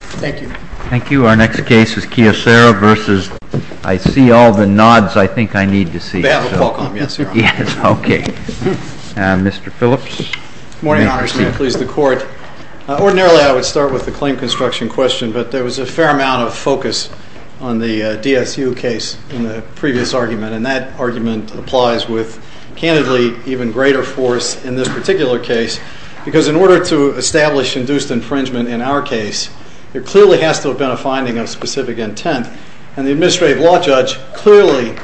Thank you. Our next case is Kyocera versus... I see all the nods I think I need to see. On behalf of Qualcomm, yes, sir. Okay. Mr. Phillips? Good morning, Congressman. Please, the Court. Ordinarily, I would start with the claim construction question, but there was a fair amount of focus on the DSU case in the previous argument, and that argument applies with, candidly, even greater force in this particular case, because in order to establish induced infringement in our case, there clearly has to have been a finding of specific intent, and the administrative law judge clearly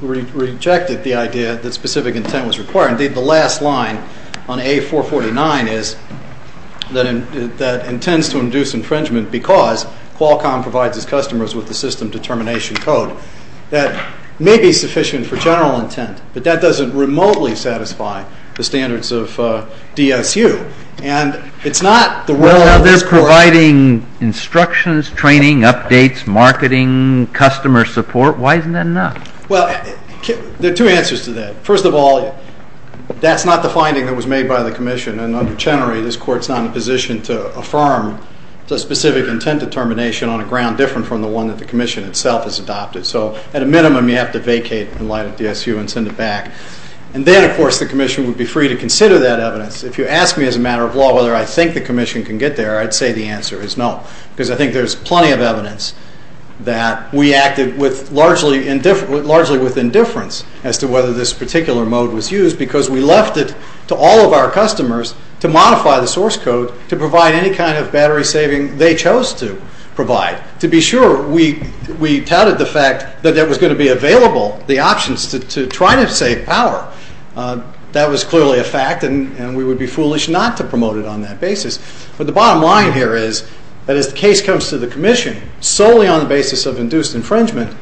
rejected the idea that specific intent was required. Indeed, the last line on A449 is that intends to induce infringement because Qualcomm provides its customers with the system determination code. That may be sufficient for general intent, but that doesn't remotely satisfy the standards of DSU, and it's not the will of the Court. Well, they're providing instructions, training, updates, marketing, customer support. Why isn't that enough? Well, there are two answers to that. First of all, that's not the finding that was made by the Commission, and, generally, this Court's not in a position to affirm the specific intent determination on a ground different from the one that the Commission itself has adopted. So, at a minimum, you have to vacate and light up DSU and send it back. And then, of course, the Commission would be free to consider that evidence. If you ask me, as a matter of law, whether I think the Commission can get there, I'd say the answer is no, because I think there's plenty of evidence that we acted largely with indifference as to whether this particular mode was used, because we left it to all of our customers to modify the source code to provide any kind of battery saving they chose to provide. To be sure, we touted the fact that there was going to be available the options to try to save power. That was clearly a fact, and we would be foolish not to promote it on that basis. But the bottom line here is that if the case comes to the Commission solely on the basis of induced infringement,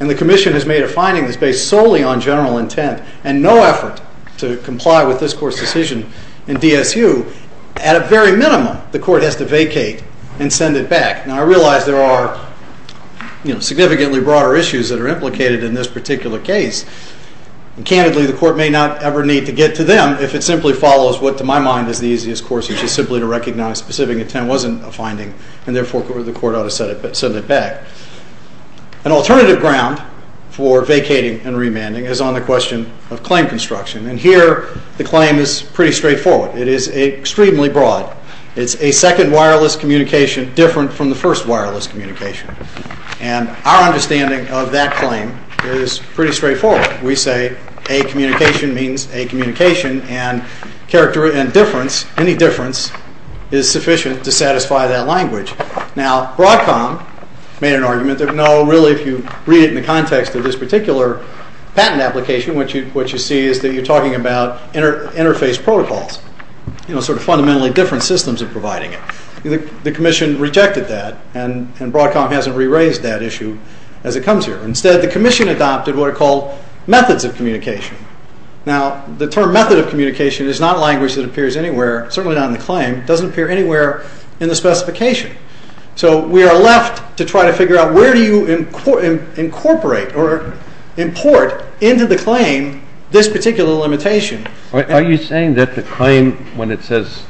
and the Commission has made a finding that's based solely on general intent and no effort to comply with this Court's decision in DSU, at a very minimum, the Court has to vacate and send it back. Now, I realize there are significantly broader issues that are implicated in this particular case. And candidly, the Court may not ever need to get to them if it simply follows what, to my mind, is the easiest course, which is simply to recognize specific intent wasn't a finding, and therefore the Court ought to send it back. An alternative ground for vacating and remanding is on the question of claim construction. And here, the claim is pretty straightforward. It is extremely broad. It's a second wireless communication different from the first wireless communication. And our understanding of that claim is pretty straightforward. We say a communication means a communication, and difference, any difference, is sufficient to satisfy that language. Now, Broadcom made an argument that, no, really, if you read it in the context of this particular patent application, what you see is that you're talking about interface protocols, sort of fundamentally different systems of providing it. The Commission rejected that, and Broadcom hasn't re-raised that issue as it comes here. Instead, the Commission adopted what are called methods of communication. Now, the term method of communication is not a language that appears anywhere, certainly not in the claim. It doesn't appear anywhere in the specification. So we are left to try to figure out where do you incorporate or import into the claim this particular limitation. Are you saying that the claim, when it says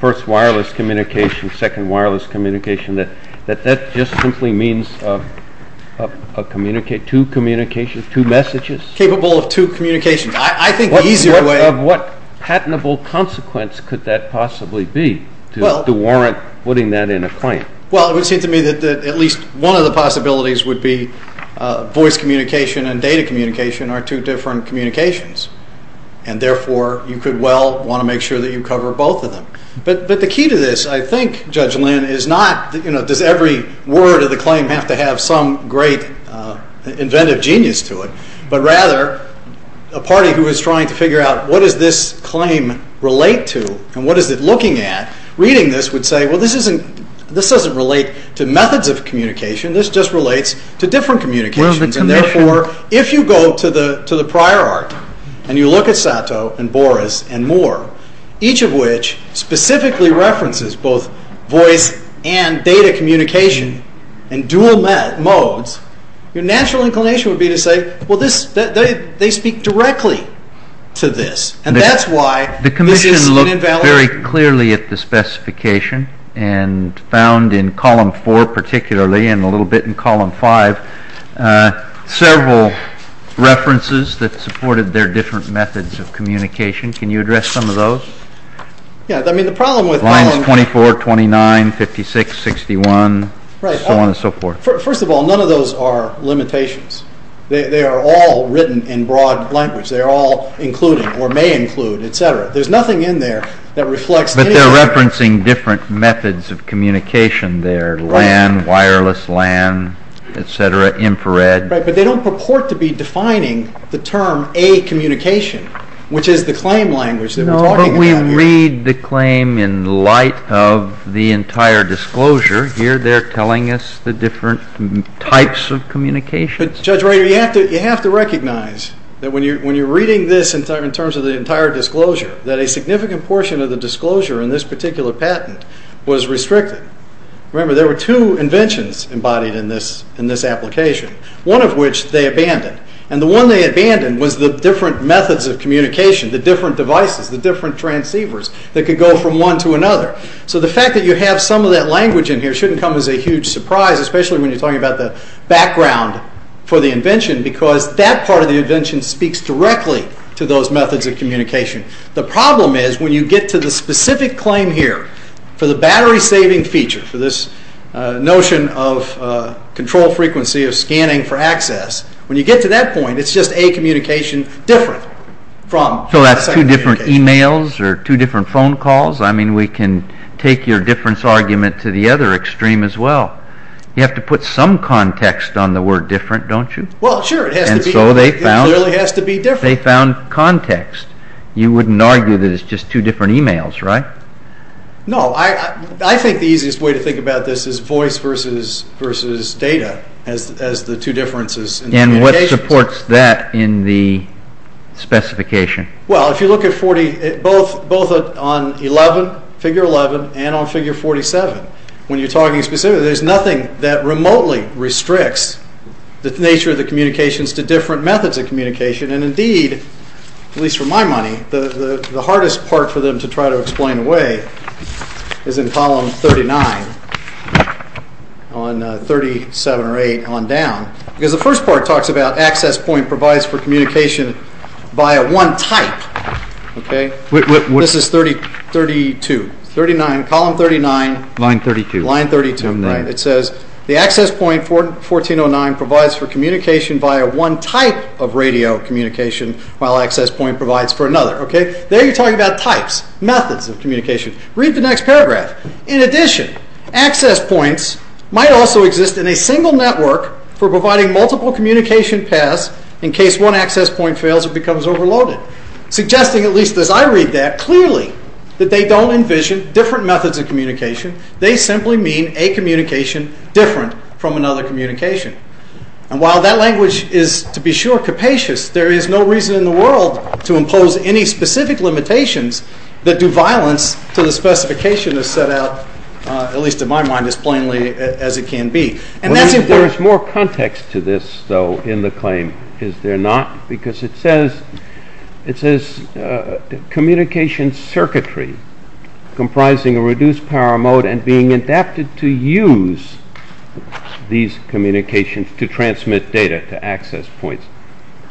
first wireless communication, second wireless communication, that that just simply means two communications, two messages? Capable of two communications. I think the easier way... What patentable consequence could that possibly be to warrant putting that in a claim? Well, it would seem to me that at least one of the possibilities would be voice communication and data communication are two different communications. And therefore, you could well want to make sure that you cover both of them. But the key to this, I think, Judge Lynn, is not, you know, does every word of the claim have to have some great inventive genius to it, but rather a party who is trying to figure out what does this claim relate to and what is it looking at, reading this would say, well, this doesn't relate to methods of communication. This just relates to different communications. And therefore, if you go to the prior art and you look at Sato and Boris and Moore, each of which specifically references both voice and data communication in dual modes, your natural inclination would be to say, well, they speak directly to this. And that's why... The commission looked very clearly at the specification and found in column four particularly and a little bit in column five, several references that supported their different methods of communication. Can you address some of those? Yeah, I mean, the problem with... Lines 24, 29, 56, 61, so on and so forth. First of all, none of those are limitations. They are all written in broad language. They are all included or may include, et cetera. There's nothing in there that reflects... But they're referencing different methods of communication there. LAN, wireless LAN, et cetera, infrared. But they don't purport to be defining the term a communication, which is the claim language that we're talking about here. When we read the claim in light of the entire disclosure, here they're telling us the different types of communication. Judge Reagan, you have to recognize that when you're reading this in terms of the entire disclosure, that a significant portion of the disclosure in this particular patent was restricted. Remember, there were two inventions embodied in this application, one of which they abandoned. And the one they abandoned was the different methods of communication, the different devices, the different transceivers that could go from one to another. So the fact that you have some of that language in here shouldn't come as a huge surprise, especially when you're talking about the background for the invention because that part of the invention speaks directly to those methods of communication. The problem is when you get to the specific claim here for the battery-saving feature, for this notion of control frequency of scanning for access, when you get to that point, it's just a communication different from... So that's two different emails or two different phone calls? I mean, we can take your difference argument to the other extreme as well. You have to put some context on the word different, don't you? Well, sure. And so they found context. You wouldn't argue that it's just two different emails, right? No. I think the easiest way to think about this is voice versus data as the two differences. And what supports that in the specification? Well, if you look at both on Figure 11 and on Figure 47, when you're talking specifically, there's nothing that remotely restricts the nature of the communications to different methods of communication. And indeed, at least for my money, the hardest part for them to try to explain away is in column 39 on 37 or 8 on down. Because the first part talks about access point provides for communication via one type, okay? This is 32. Column 39, line 32. It says the access point 1409 provides for communication via one type of radio communication while access point provides for another, okay? There you're talking about pipes, methods of communication. Read the next paragraph. In addition, access points might also exist in a single network for providing multiple communication paths in case one access point fails or becomes overloaded, suggesting, at least as I read that, clearly that they don't envision different methods of communication. They simply mean a communication different from another communication. And while that language is, to be sure, capacious, there is no reason in the world to impose any specific limitations that do violence for the specification of set out, at least in my mind, as plainly as it can be. And that's important. There's more context to this, though, in the claim, is there not? Because it says communication circuitry comprising a reduced power mode and being adapted to use these communications to transmit data to access points.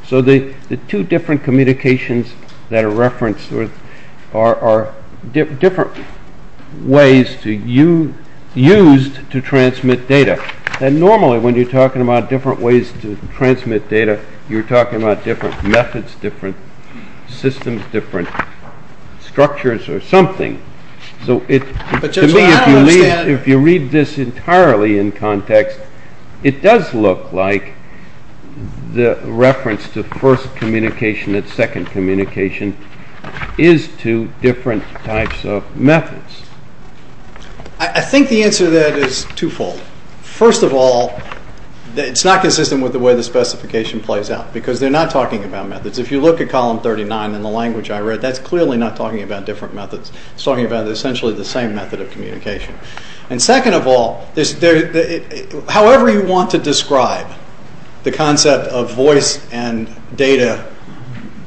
So the two different communications that are referenced are different ways used to transmit data. And normally when you're talking about different ways to transmit data, you're talking about different methods, different systems, different structures or something. So to me, if you read this entirely in context, it does look like the reference to first communication and second communication is to different types of methods. I think the answer to that is twofold. First of all, it's not consistent with the way the specification plays out because they're not talking about methods. If you look at column 39 in the language I read, that's clearly not talking about different methods. It's talking about essentially the same method of communication. And second of all, however you want to describe the concept of voice and data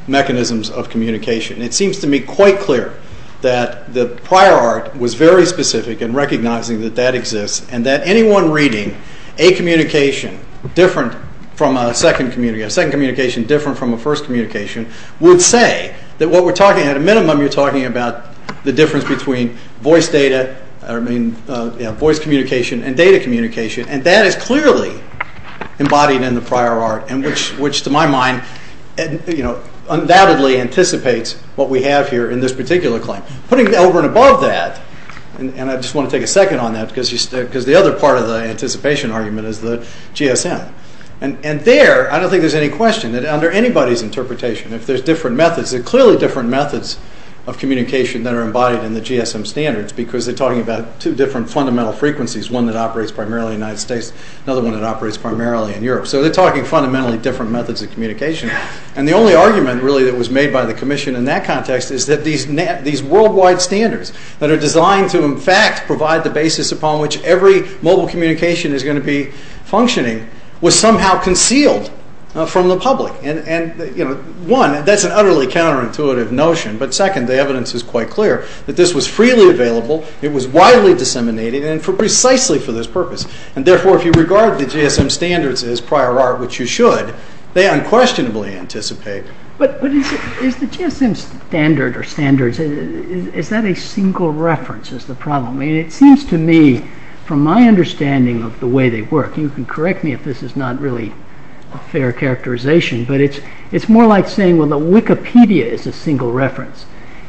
mechanisms of communication, it seems to me quite clear that the prior art was very specific in recognizing that that exists and that anyone reading a communication different from a second communication, different from a first communication, would say that at a minimum you're talking about the difference between voice communication and data communication. And that is clearly embodied in the prior art, which to my mind undoubtedly anticipates what we have here in this particular claim. Putting it over and above that, and I just want to take a second on that because the other part of the anticipation argument is the GSM. And there, I don't think there's any question that under anybody's interpretation, if there's different methods, there are clearly different methods of communication that are embodied in the GSM standards because they're talking about two different fundamental frequencies, one that operates primarily in the United States, another one that operates primarily in Europe. So they're talking fundamentally different methods of communication. And the only argument really that was made by the commission in that context is that these worldwide standards that are designed to in fact provide the basis upon which every mobile communication is going to be functioning, was somehow concealed from the public. And one, that's an utterly counterintuitive notion, but second, the evidence is quite clear that this was freely available, it was widely disseminated, and precisely for this purpose. And therefore, if you regard the GSM standards as prior art, which you should, they unquestionably anticipate. But is the GSM standard or standards, is that a single reference is the problem? It seems to me, from my understanding of the way they work, you can correct me if this is not really a fair characterization, but it's more like saying, well, the Wikipedia is a single reference,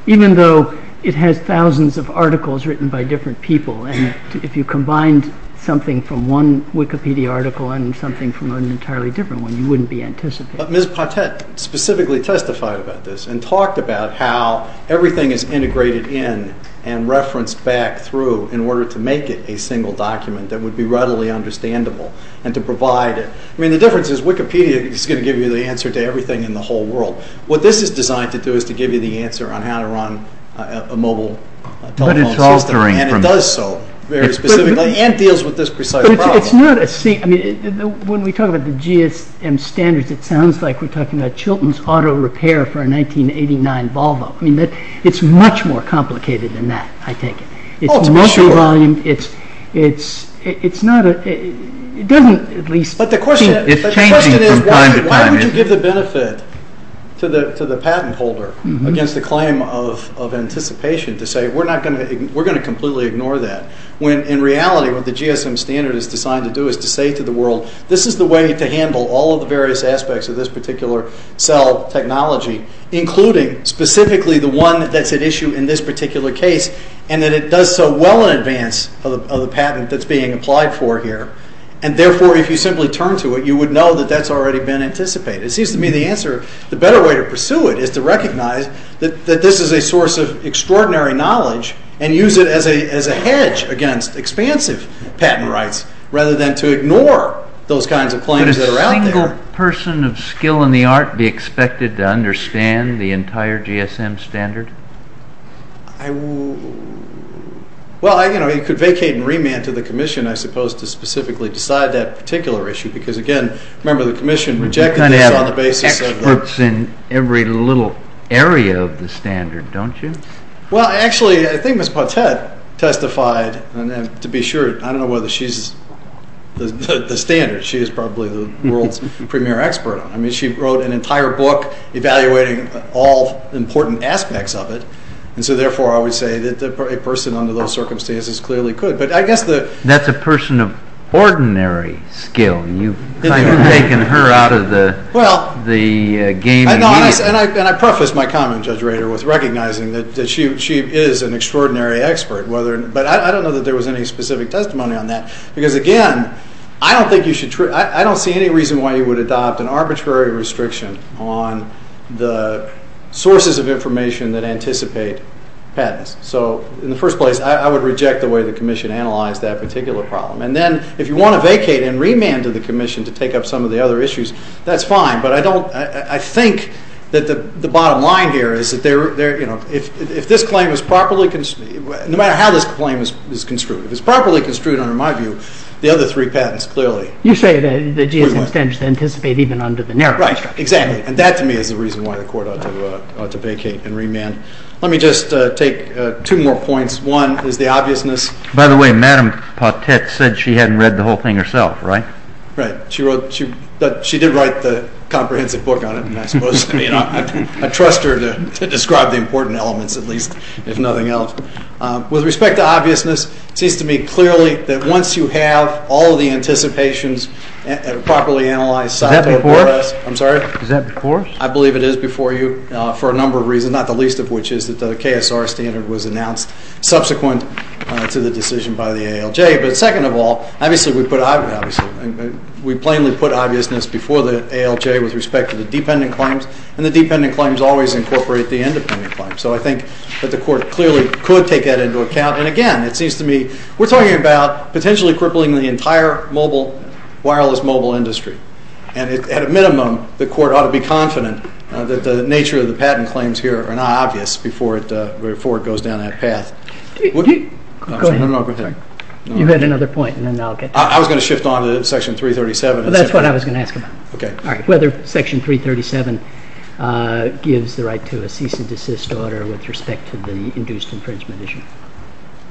even though it has thousands of articles written by different people. And if you combined something from one Wikipedia article and something from an entirely different one, you wouldn't be anticipating. But Ms. Patet specifically testified about this and talked about how everything is integrated in and referenced back through in order to make it a single document that would be readily understandable and to provide it. I mean, the difference is, Wikipedia is going to give you the answer to everything in the whole world. What this is designed to do is to give you the answer on how to run a mobile telephone system, and it does so very specifically and deals with this precise problem. But it's not a... I mean, when we talk about the GSM standards, it sounds like we're talking about Chilton's auto repair for a 1989 Volvo. I mean, it's much more complicated than that, I think. It's much more... Oh, it's much more. It's not a... It doesn't at least... But the question is... It's changing from time to time, isn't it? We should give the benefit to the patent holder against the claim of anticipation to say, we're going to completely ignore that, when in reality what the GSM standard is designed to do is to say to the world, this is the way to handle all of the various aspects of this particular cell technology, including specifically the one that's at issue in this particular case, and that it does so well in advance of the patent that's being applied for here. And therefore, if you simply turn to it, you would know that that's already been anticipated. It seems to me the answer... The better way to pursue it is to recognize that this is a source of extraordinary knowledge and use it as a hedge against expansive patent rights rather than to ignore those kinds of claims that are out there. Would a person of skill in the art be expected to understand the entire GSM standard? Well, you could vacate and remand to the commission, I suppose, to specifically decide that particular issue because, again, remember the commission... You kind of have textbooks in every little area of the standard, don't you? Well, actually, I think Ms. Pottet testified, and to be sure, I don't know whether she's the standard. She is probably the world's premier expert. I mean, she wrote an entire book evaluating all important aspects of it, and so therefore I would say that a person under those circumstances clearly could, but I guess the... That's a person of ordinary skill. You've kind of taken her out of the game. And I preface my comment, Judge Rader, with recognizing that she is an extraordinary expert. But I don't know that there was any specific testimony on that because, again, I don't think you should... I don't see any reason why you would adopt an arbitrary restriction on the sources of information that anticipate patents. So, in the first place, I would reject the way the commission analyzed that particular problem. And then if you want to vacate and remand to the commission to take up some of the other issues, that's fine, but I think that the bottom line here is that if this claim is properly... No matter how this claim is construed, if it's properly construed, I remind you, the other three patents clearly... You say that the G.S. Extension anticipated even under the narrow... Right, exactly. And that, to me, is the reason why the court ought to vacate and remand. Let me just take two more points. One is the obviousness... By the way, Madam Pottet said she hadn't read the whole thing herself, right? Right. She wrote... She did write the comprehensive book on it, and I suppose I trust her to describe the important elements, at least, if nothing else. With respect to obviousness, it seems to me clearly that once you have all the anticipations properly analyzed... Is that before us? I'm sorry? Is that before us? I believe it is before you for a number of reasons, not the least of which is that the KSR standard was announced subsequent to the decision by the ALJ. But second of all, obviously, we put obviousness... We plainly put obviousness before the ALJ with respect to the dependent claims, and the dependent claims always incorporate the independent claims. So I think that the Court clearly could take that into account. And again, it seems to me we're talking about potentially crippling the entire wireless mobile industry. And at a minimum, the Court ought to be confident that the nature of the patent claims here are not obvious before it goes down that path. Would he... Go ahead. You had another point, and then I'll get to it. I was going to shift on to Section 337. That's what I was going to ask about. All right. Whether Section 337 gives the right to a cease and desist order with respect to the induced infringement issue.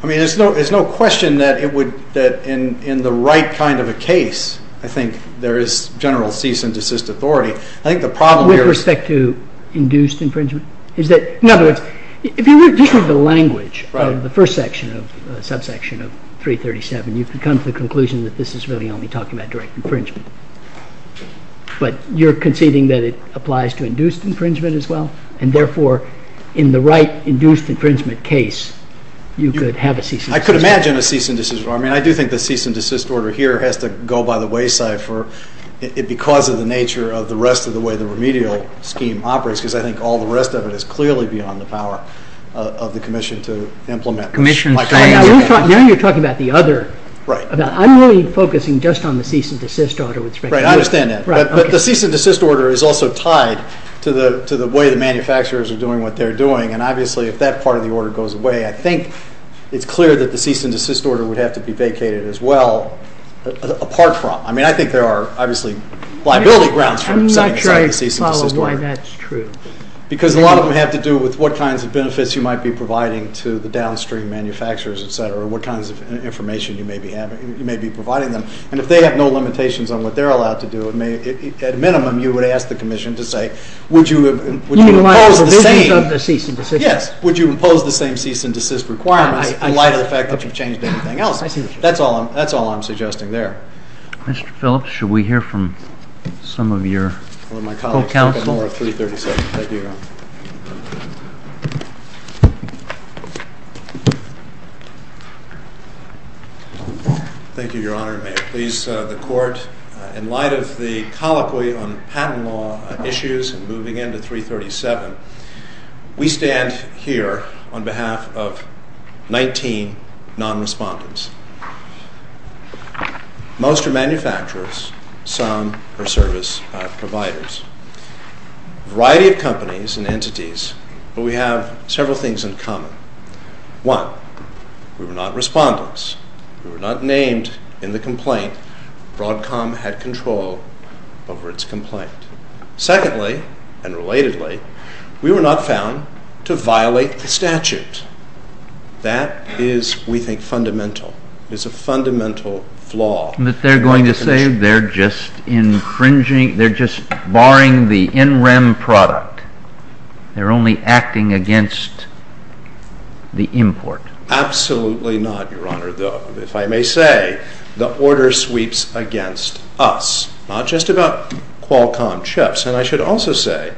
I mean, there's no question that in the right kind of a case, I think there is general cease and desist authority. I think the problem here... With respect to induced infringement? Is that... In other words, if you look at the language of the first section, the subsection of 337, you can come to the conclusion that this is really only talking about direct infringement. But you're conceding that it applies to induced infringement as well? And therefore, in the right induced infringement case, you could have a cease and desist order? I could imagine a cease and desist order. I mean, I do think the cease and desist order here has to go by the wayside because of the nature of the rest of the way the remedial scheme operates, because I think all the rest of it is clearly beyond the power of the Commission to implement... Commission... Now you're talking about the other... I'm really focusing just on the cease and desist order. Right, I understand that. But the cease and desist order is also tied to the way the manufacturers are doing what they're doing, and obviously if that part of the order goes away, I think it's clear that the cease and desist order would have to be vacated as well, apart from... I mean, I think there are obviously liability grounds... I'm not trying to follow where that's true. Because a lot of them have to do with what kinds of benefits you might be providing to the downstream manufacturers, etc., or what kinds of information you may be providing them. And if they have no limitations on what they're allowed to do, at minimum, you would ask the Commission to say, would you impose the same... You might impose the same cease and desist... Yes, would you impose the same cease and desist requirement in light of the fact that you've changed anything else? I see what you're saying. That's all I'm suggesting there. Mr. Phelps, should we hear from some of your co-counsel? One of my colleagues is looking for a 336. Thank you. Thank you, Your Honor. May it please the Court, in light of the colloquy on patent law issues and moving into 337, we stand here on behalf of 19 non-respondents. Most are manufacturers. Some are service providers. A variety of companies and entities, but we have several things in common. One, we were not respondents. We were not named in the complaint. Broadcom had control over its complaint. Secondly, and relatedly, we were not found to violate the statute. That is, we think, fundamental. It is a fundamental flaw. But they're going to say they're just barring the NREM product. They're only acting against the import. Absolutely not, Your Honor, though. If I may say, the order sweeps against us, not just about Qualcomm chips. And I should also say,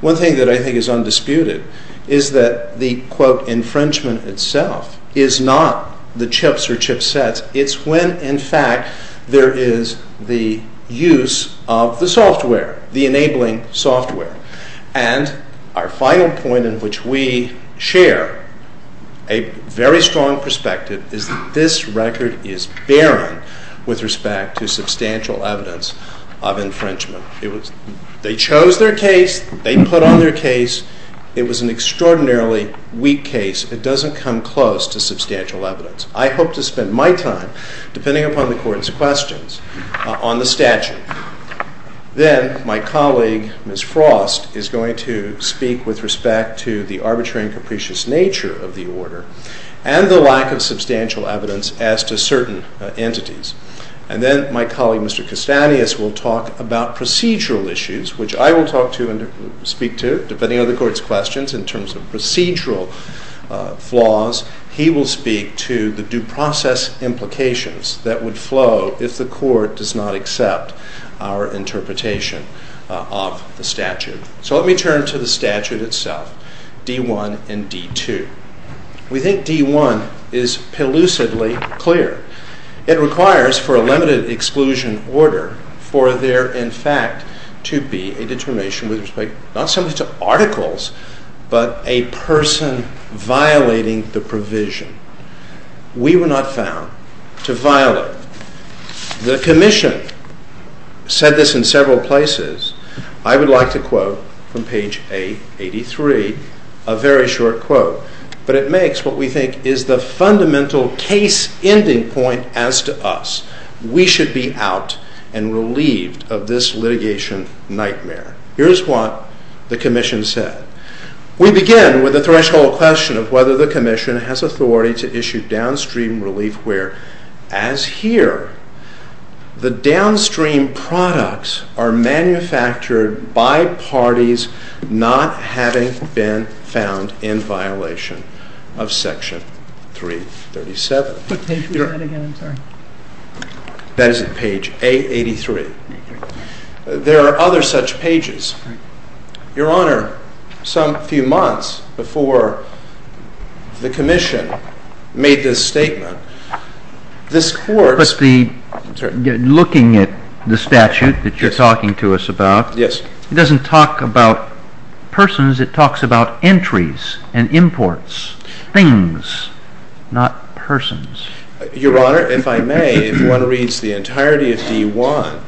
one thing that I think is undisputed is that the, quote, infringement itself is not the chips or chipsets. It's when, in fact, there is the use of the software, the enabling software. And our final point in which we share a very strong perspective is that this record is barren with respect to substantial evidence of infringement. They chose their case. They put on their case. It was an extraordinarily weak case. It doesn't come close to substantial evidence. I hope to spend my time, depending upon the Court's questions, on the statute. Then my colleague, Ms. Frost, is going to speak with respect to the arbitrary and capricious nature of the order and the lack of substantial evidence as to certain entities. And then my colleague, Mr. Kasanias, will talk about procedural issues, which I will talk to and speak to, depending on the Court's questions, in terms of procedural flaws. He will speak to the due process implications that would flow if the Court does not accept our interpretation of the statute. So let me turn to the statute itself, D-1 and D-2. We think D-1 is pellucidly clear. It requires, for a limited exclusion order, for there, in fact, to be a determination with respect not simply to articles, but a person violating the provision. We were not found to violate The Commission said this in several places. I would like to quote from page A83, a very short quote, but it makes what we think is the fundamental case-ending point as to us. We should be out and relieved of this litigation nightmare. Here is what the Commission said. We began with a threshold question of whether the Commission has authority to issue downstream relief where, as here, the downstream products are manufactured by parties not having been found in violation of Section 337. That is page A83. There are other such pages. Your Honor, some few months before the Commission made this statement, looking at the statute that you're talking to us about, it doesn't talk about persons. It talks about entries and imports, things, not persons. Your Honor, if I may, if one reads the entirety of D-1,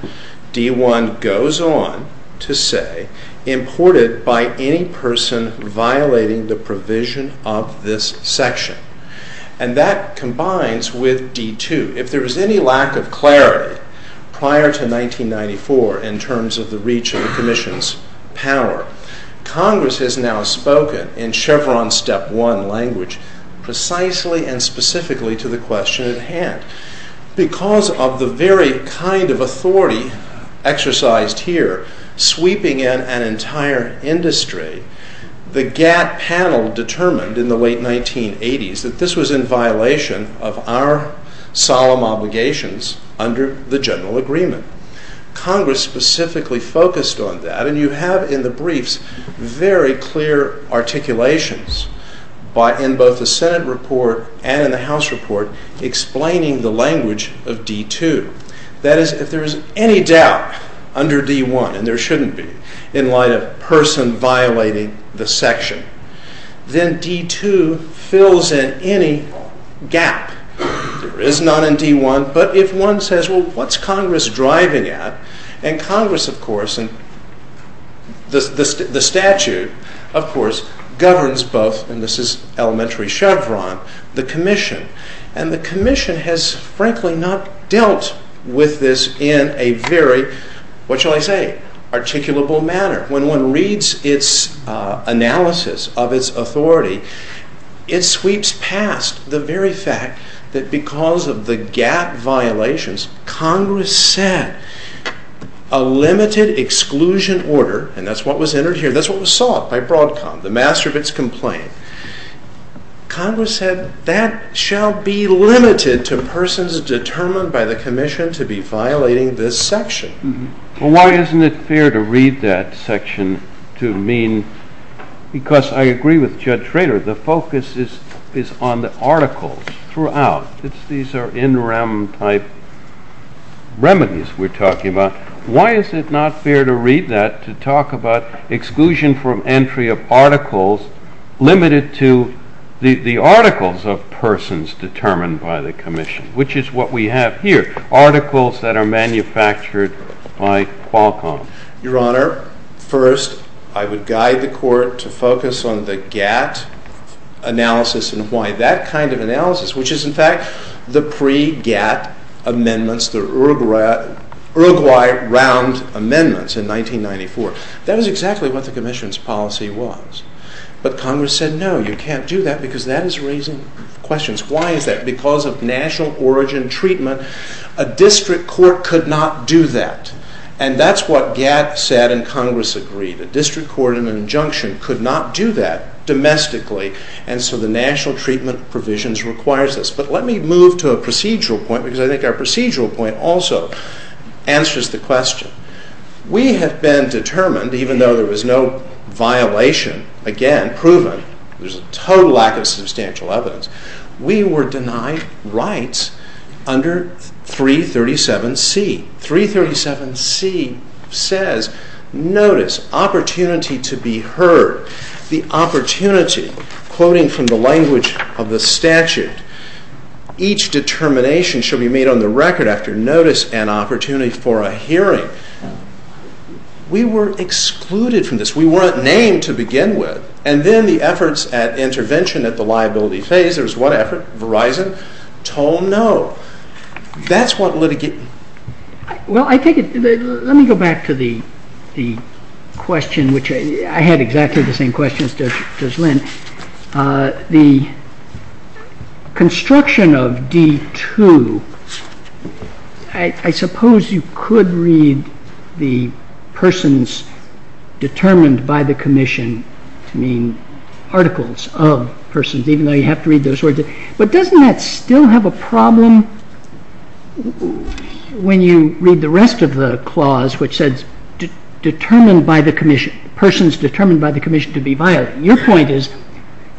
D-1 goes on to say, imported by any person violating the provision of this section. And that combines with D-2. If there is any lack of clarity prior to 1994 in terms of the reach of the Commission's power, Congress has now spoken in Chevron Step 1 language precisely and specifically to the question at hand. Because of the very kind of authority exercised here, sweeping in an entire industry, the gap panel determined in the late 1980s that this was in violation of our solemn obligations under the General Agreement. Congress specifically focused on that, and you have in the briefs very clear articulations in both the Senate report and in the House report explaining the language of D-2. That is, if there is any doubt under D-1, and there shouldn't be, in light of a person violating the section, then D-2 fills in any gap. It is not in D-1, but if one says, well, what's Congress driving at? And Congress, of course, and the statute, of course, governs both, and this is elementary Chevron, the Commission. And the Commission has, frankly, not dealt with this in a very, what shall I say, articulable manner. When one reads its analysis of its authority, it sweeps past the very fact that because of the gap violations, Congress said a limited exclusion order, and that's what was entered here, that's what was solved by Broadcom, the master of its complaint. Congress said, that shall be limited to persons determined by the Commission to be violating this section. So why isn't it fair to read that section to mean, because I agree with Judge Traylor, the focus is on the articles throughout. These are NREM-type remedies we're talking about. Why is it not fair to read that to talk about exclusion from entry of articles limited to the articles of persons determined by the Commission, which is what we have here, articles that are manufactured by Qualcomm. Your Honor, first, I would guide the Court to focus on the GATT analysis and why that kind of analysis, which is in fact the pre-GATT amendments, the Uruguay Round amendments in 1994. That is exactly what the Commission's policy was. But Congress said, no, you can't do that because that is raising questions. Why is that? Because of national origin treatment, a district court could not do that. And that's what GATT said and Congress agreed. A district court in an injunction could not do that domestically, and so the national treatment provisions requires this. But let me move to a procedural point because I think our procedural point also answers the question. We have been determined, even though there was no violation, again, proven, there's a total lack of substantial evidence, we were denied rights under 337C. 337C says, notice, opportunity to be heard, the opportunity, quoting from the language of the statute, each determination should be made on the record after notice and opportunity for a hearing. We were excluded from this. We weren't named to begin with. And then the efforts at intervention at the liability phase, there was one effort, Verizon, told no. That's what litigate... Well, I take it... Let me go back to the question which I had exactly the same question as Lynn. The construction of D2, I suppose you could read the persons determined by the commission, I mean, articles of persons, even though you have to read those words. But doesn't that still have a problem when you read the rest of the clause which says determined by the commission, persons determined by the commission to be violated. Your point is,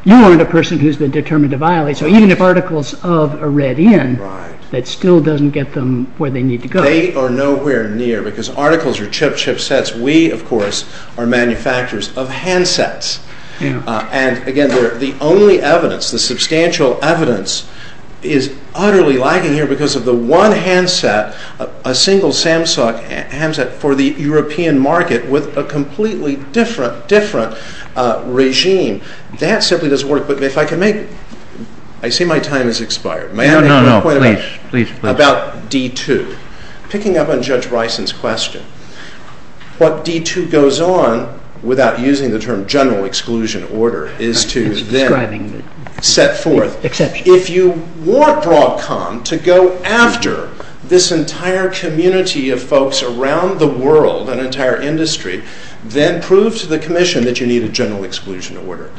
you aren't a person who's been determined to violate, so even if articles of are read in, that still doesn't get them where they need to go. They are nowhere near because articles are chip sets. We, of course, are manufacturers of handsets. And again, the only evidence, the substantial evidence is utterly lacking here because of the one handset, a single Samsung handset for the European market with a completely different regime. That simply doesn't work. But if I could make, I see my time has expired. May I ask you a question about D2? Picking up on Judge Rison's question, what D2 goes on, without using the term general exclusion order, is to then set forth, if you want Broadcom to go after this entire community of folks around the world, an entire industry, then prove to the commission that you need a general exclusion order.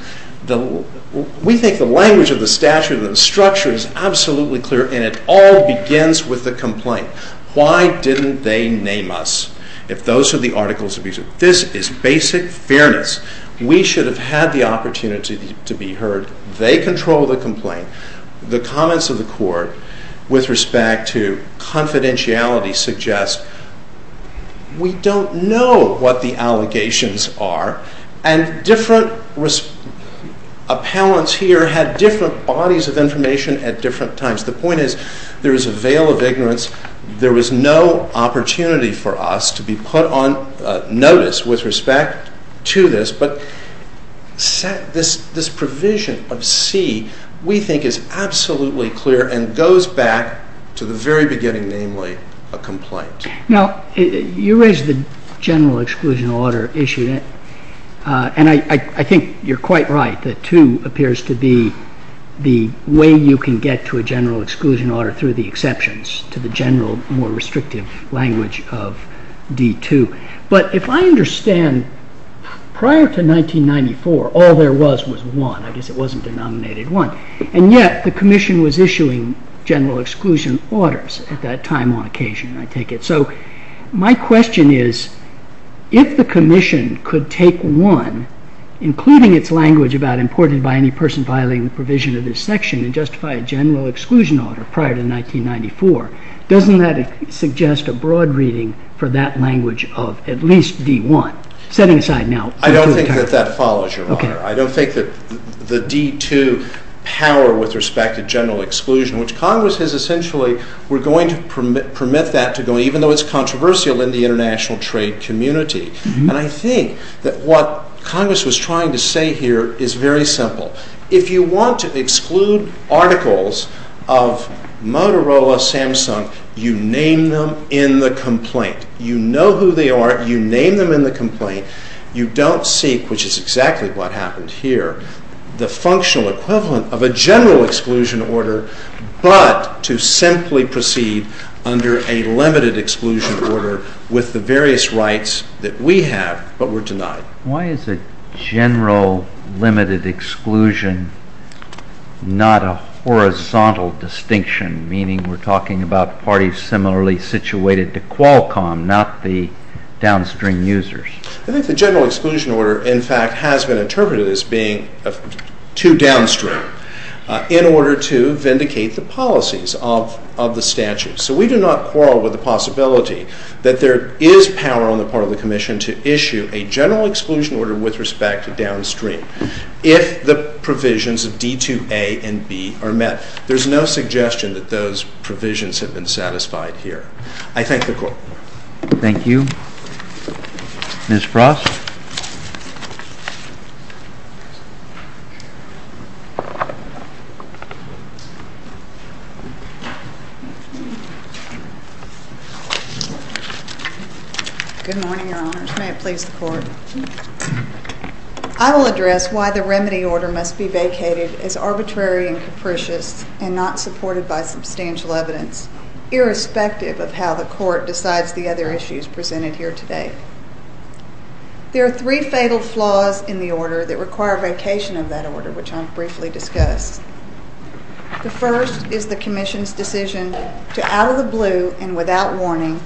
We think the language of the statute and the structure is absolutely clear and it all begins with the complaint. Why didn't they name us if those are the articles of abuse? This is basic fairness. We should have had the opportunity to be heard. They control the complaint. The comments of the court with respect to confidentiality suggest we don't know what the allegations are and different appellants here had different bodies of information at different times. The point is there is a veil of ignorance. There was no opportunity for us to be put on notice with respect to this, but this provision of C we think is absolutely clear and goes back to the very beginning, namely a complaint. Now, you raised the general exclusion order issue and I think you're quite right. The 2 appears to be the way you can get to a general exclusion order through the exceptions to the general, more restrictive language of D2. But if I understand correctly, prior to 1994, all there was was one. It wasn't denominated one. And yet the commission was issuing general exclusion orders at that time on occasion, I take it. So my question is if the commission could take one, including its language about imported by any person violating the provision of this section and justify a general exclusion order prior to 1994, doesn't that suggest a broad reading for that language of at least D1? Set it aside now. I don't think that that follows you, Walter. I don't think that the D2 power with respect to general exclusion, which Congress has essentially, we're going to permit that to go, even though it's controversial in the international trade community. And I think that what Congress was trying to say here is very simple. If you want to exclude articles of Motorola, Samsung, you name them in the complaint. You know who they are. You name them in the complaint. You don't seek, which is exactly what happens here, the functional equivalent of a general exclusion order, but to simply proceed under a limited exclusion order with the various rights that we have, but we're denied. Why is a general limited exclusion not a horizontal distinction, meaning we're talking about parties similarly situated to Qualcomm, not the downstream users? I think the general exclusion order, in fact, has been interpreted as being too downstream in order to vindicate the policies of the statute. So we do not quarrel with the possibility that there is power on the part of the commission to issue a general exclusion order with respect to downstream if the provisions of D2A and B are met. There's no suggestion that those provisions have been satisfied here. I thank the Court. Thank you. Ms. Cross? Good morning, Your Honor. May it please the Court. I will address why the remedy order must be vacated as arbitrary and capricious and not supported by substantial evidence, irrespective of how the Court decides the other issues presented here today. There are three fatal flaws in the order that require vacation of that order, which I'll briefly discuss. The first is the commission's decision to, out of the blue and without warning,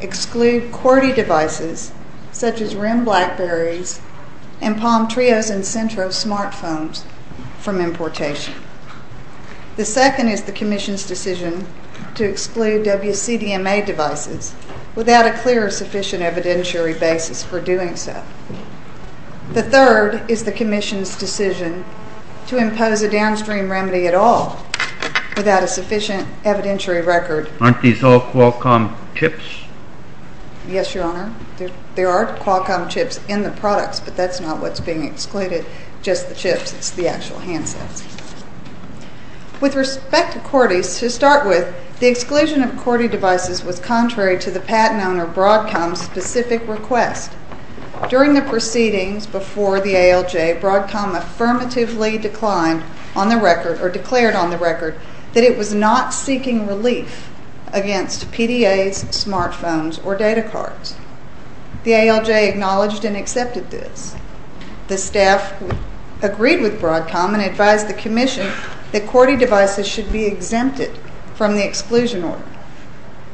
exclude QWERTY devices, such as RIM BlackBerrys and Palm Trios and Sentro smartphones from importation. The second is the commission's decision to exclude WCDMA devices without a clear or sufficient evidentiary basis for doing so. The third is the commission's decision to impose a downstream remedy at all without a sufficient evidentiary record. Aren't these all Qualcomm chips? Yes, Your Honor. There are Qualcomm chips in the products, but that's not what's being excluded, just the chips, the actual handsets. With respect to QWERTY, to start with, the exclusion of QWERTY devices was contrary to the patent owner Broadcom's specific request. During the proceedings before the ALJ, Broadcom affirmatively declared on the record that it was not seeking relief against PDAs, smartphones, or data cards. The ALJ acknowledged and accepted this. The staff agreed with Broadcom and advised the commission that QWERTY devices should be exempted from the exclusion order.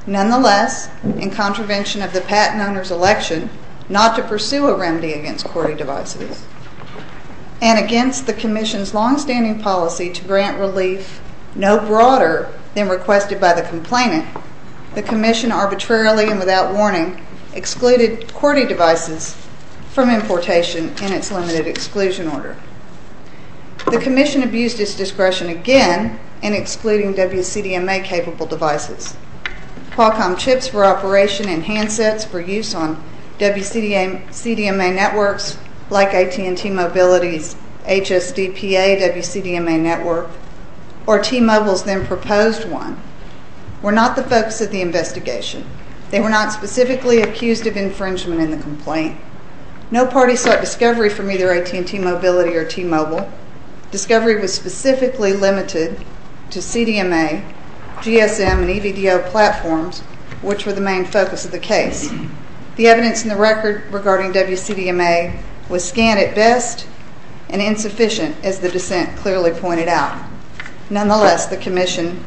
Nonetheless, in contravention of the patent owner's election not to pursue a remedy against QWERTY devices, and against the commission's longstanding policy to grant relief no broader than requested by the complainant, the commission arbitrarily and without warning excluded QWERTY devices from importation in its limited exclusion order. The commission abused its discretion again in excluding WCDMA-capable devices. Qualcomm chips for operation and handsets for use on WCDMA networks like AT&T Mobility's HSV-TA WCDMA network or T-Mobile's then-proposed one were not the focus of the investigation. They were not specifically accused of infringement in the complaint. No parties sought discovery from either AT&T Mobility or T-Mobile. Discovery was specifically limited to CDMA, GSM, and EVDO platforms, which were the main focus of the case. The evidence in the record regarding WCDMA was scant at best and insufficient as the dissent clearly pointed out. Nonetheless, the commission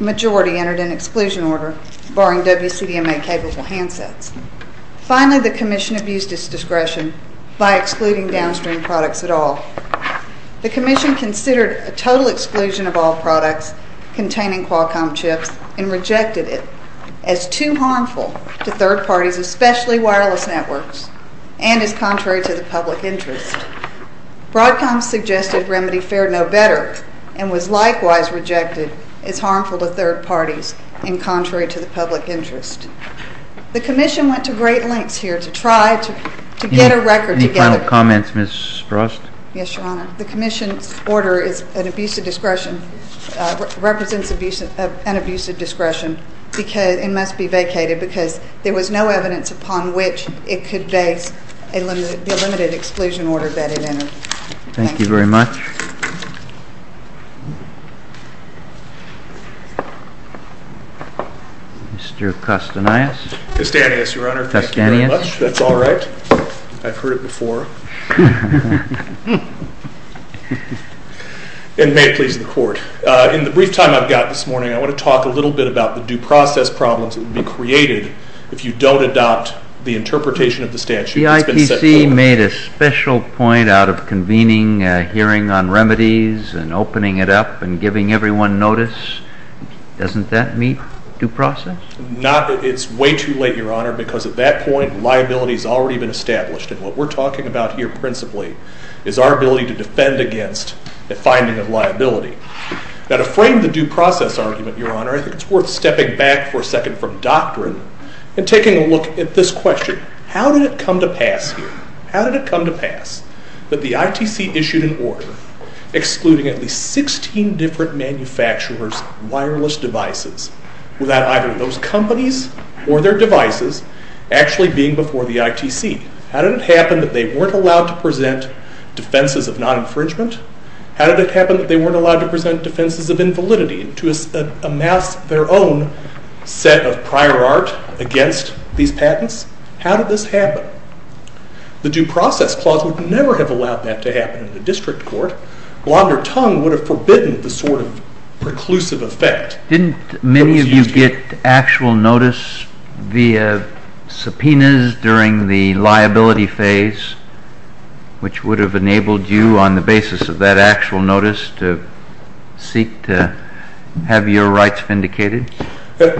majority entered an exclusion order barring WCDMA-capable handsets. Finally, the commission abused its discretion by excluding downstream products at all. The commission considered a total exclusion of all products containing Qualcomm chips and rejected it as too harmful to third parties, especially wireless networks, and as contrary to the public interest. Broadcom suggested RemedyFair know better and was likewise rejected as harmful to third parties and contrary to the public interest. The commission went to great lengths here to try to get a record together. Any final comments, Ms. Frost? Yes, Your Honor. The commission's order represents an abusive discretion and must be vacated because there was no evidence upon which it could vacate a limited exclusion order vetted in it. Thank you very much. Mr. Kostanais? Kostanais, Your Honor. Thank you very much. That's all right. I've heard it before. And may it please the Court. In the brief time I've got this morning, I want to talk a little bit about the due process problems that would be created if you don't adopt the interpretation of the statute. The ITC made a special point out of convening a hearing on remedies and opening it up and giving everyone notice. Doesn't that meet due process? Not that it's way too late, Your Honor, because at that point, liability has already been established. And what we're talking about here principally is our ability to defend against the finding of liability. Now, to frame the due process argument, Your Honor, it's worth stepping back for a second from doctrine and taking a look at this question. How did it come to pass here? How did it come to pass that the ITC issued an order excluding at least 16 different manufacturers of wireless devices without either those companies or their devices actually being before the ITC? How did it happen that they weren't allowed to present defenses of non-infringement? How did it happen that they weren't allowed to present defenses of invalidity to amass their own set of prior art against these patents? How did this happen? The due process clause would never have allowed that to happen in the district court. Blonder tongue would have forbidden the sort of preclusive effect. Didn't many of you get actual notice via subpoenas during the liability phase which would have enabled you on the basis of that actual notice to seek to have your rights vindicated?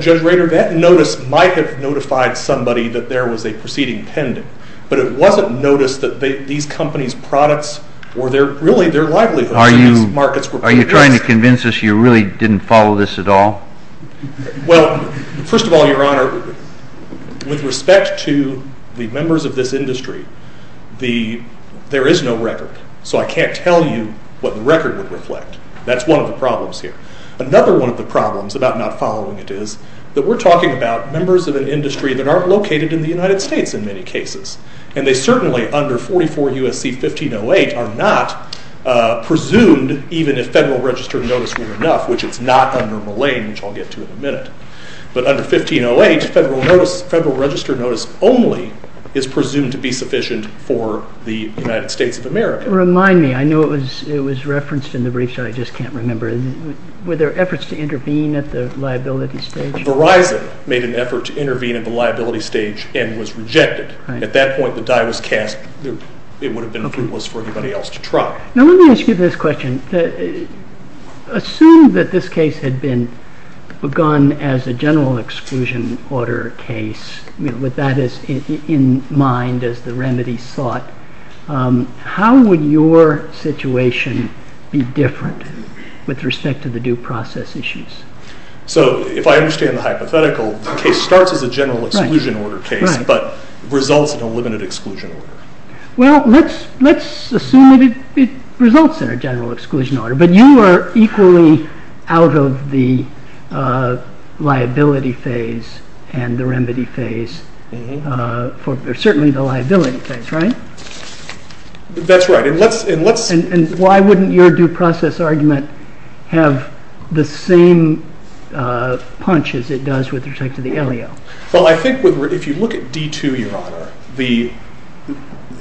Judge Rader, that notice might have notified somebody that there was a proceeding pending, but it wasn't noticed that these companies' products or their, really, their livelihoods in those markets were being judged. Are you trying to convince us you really didn't follow this at all? Well, first of all, Your Honor, with respect to the members of this industry, there is no record, so I can't tell you what the record would reflect. That's one of the problems here. Another one of the problems about not following it is that we're talking about members of an industry that aren't located in the United States in many cases. And they certainly, under 44 U.S.C. 1508, are not presumed even if Federal Register Notice was enough, which is not under Malay, which I'll get to in a minute. But under 1508, Federal Register Notice only is presumed to be sufficient for the United States of America. Remind me. I know it was referenced in the brief, so I just can't remember. Were there efforts to intervene at the liability stage? A variety of them made an effort to intervene at the liability stage and was rejected. At that point, the die was cast. It would have been futile for anybody else to try. Now, let me ask you this question. Assume that this case had been begun as a general exclusion order case. Was that in mind as the remedy sought? How would your situation be different with respect to the due process issues? So, if I understand the hypothetical, the case starts as a general exclusion order case, but results in a limited exclusion order. Well, let's assume that it results in a general exclusion order, but you are equally out of the liability phase and the remedy phase is certainly the liability phase, right? That's right. And why wouldn't your due process argument have the same punch as it does with respect to the LEO? Well, I think if you look at D2, Your Honor,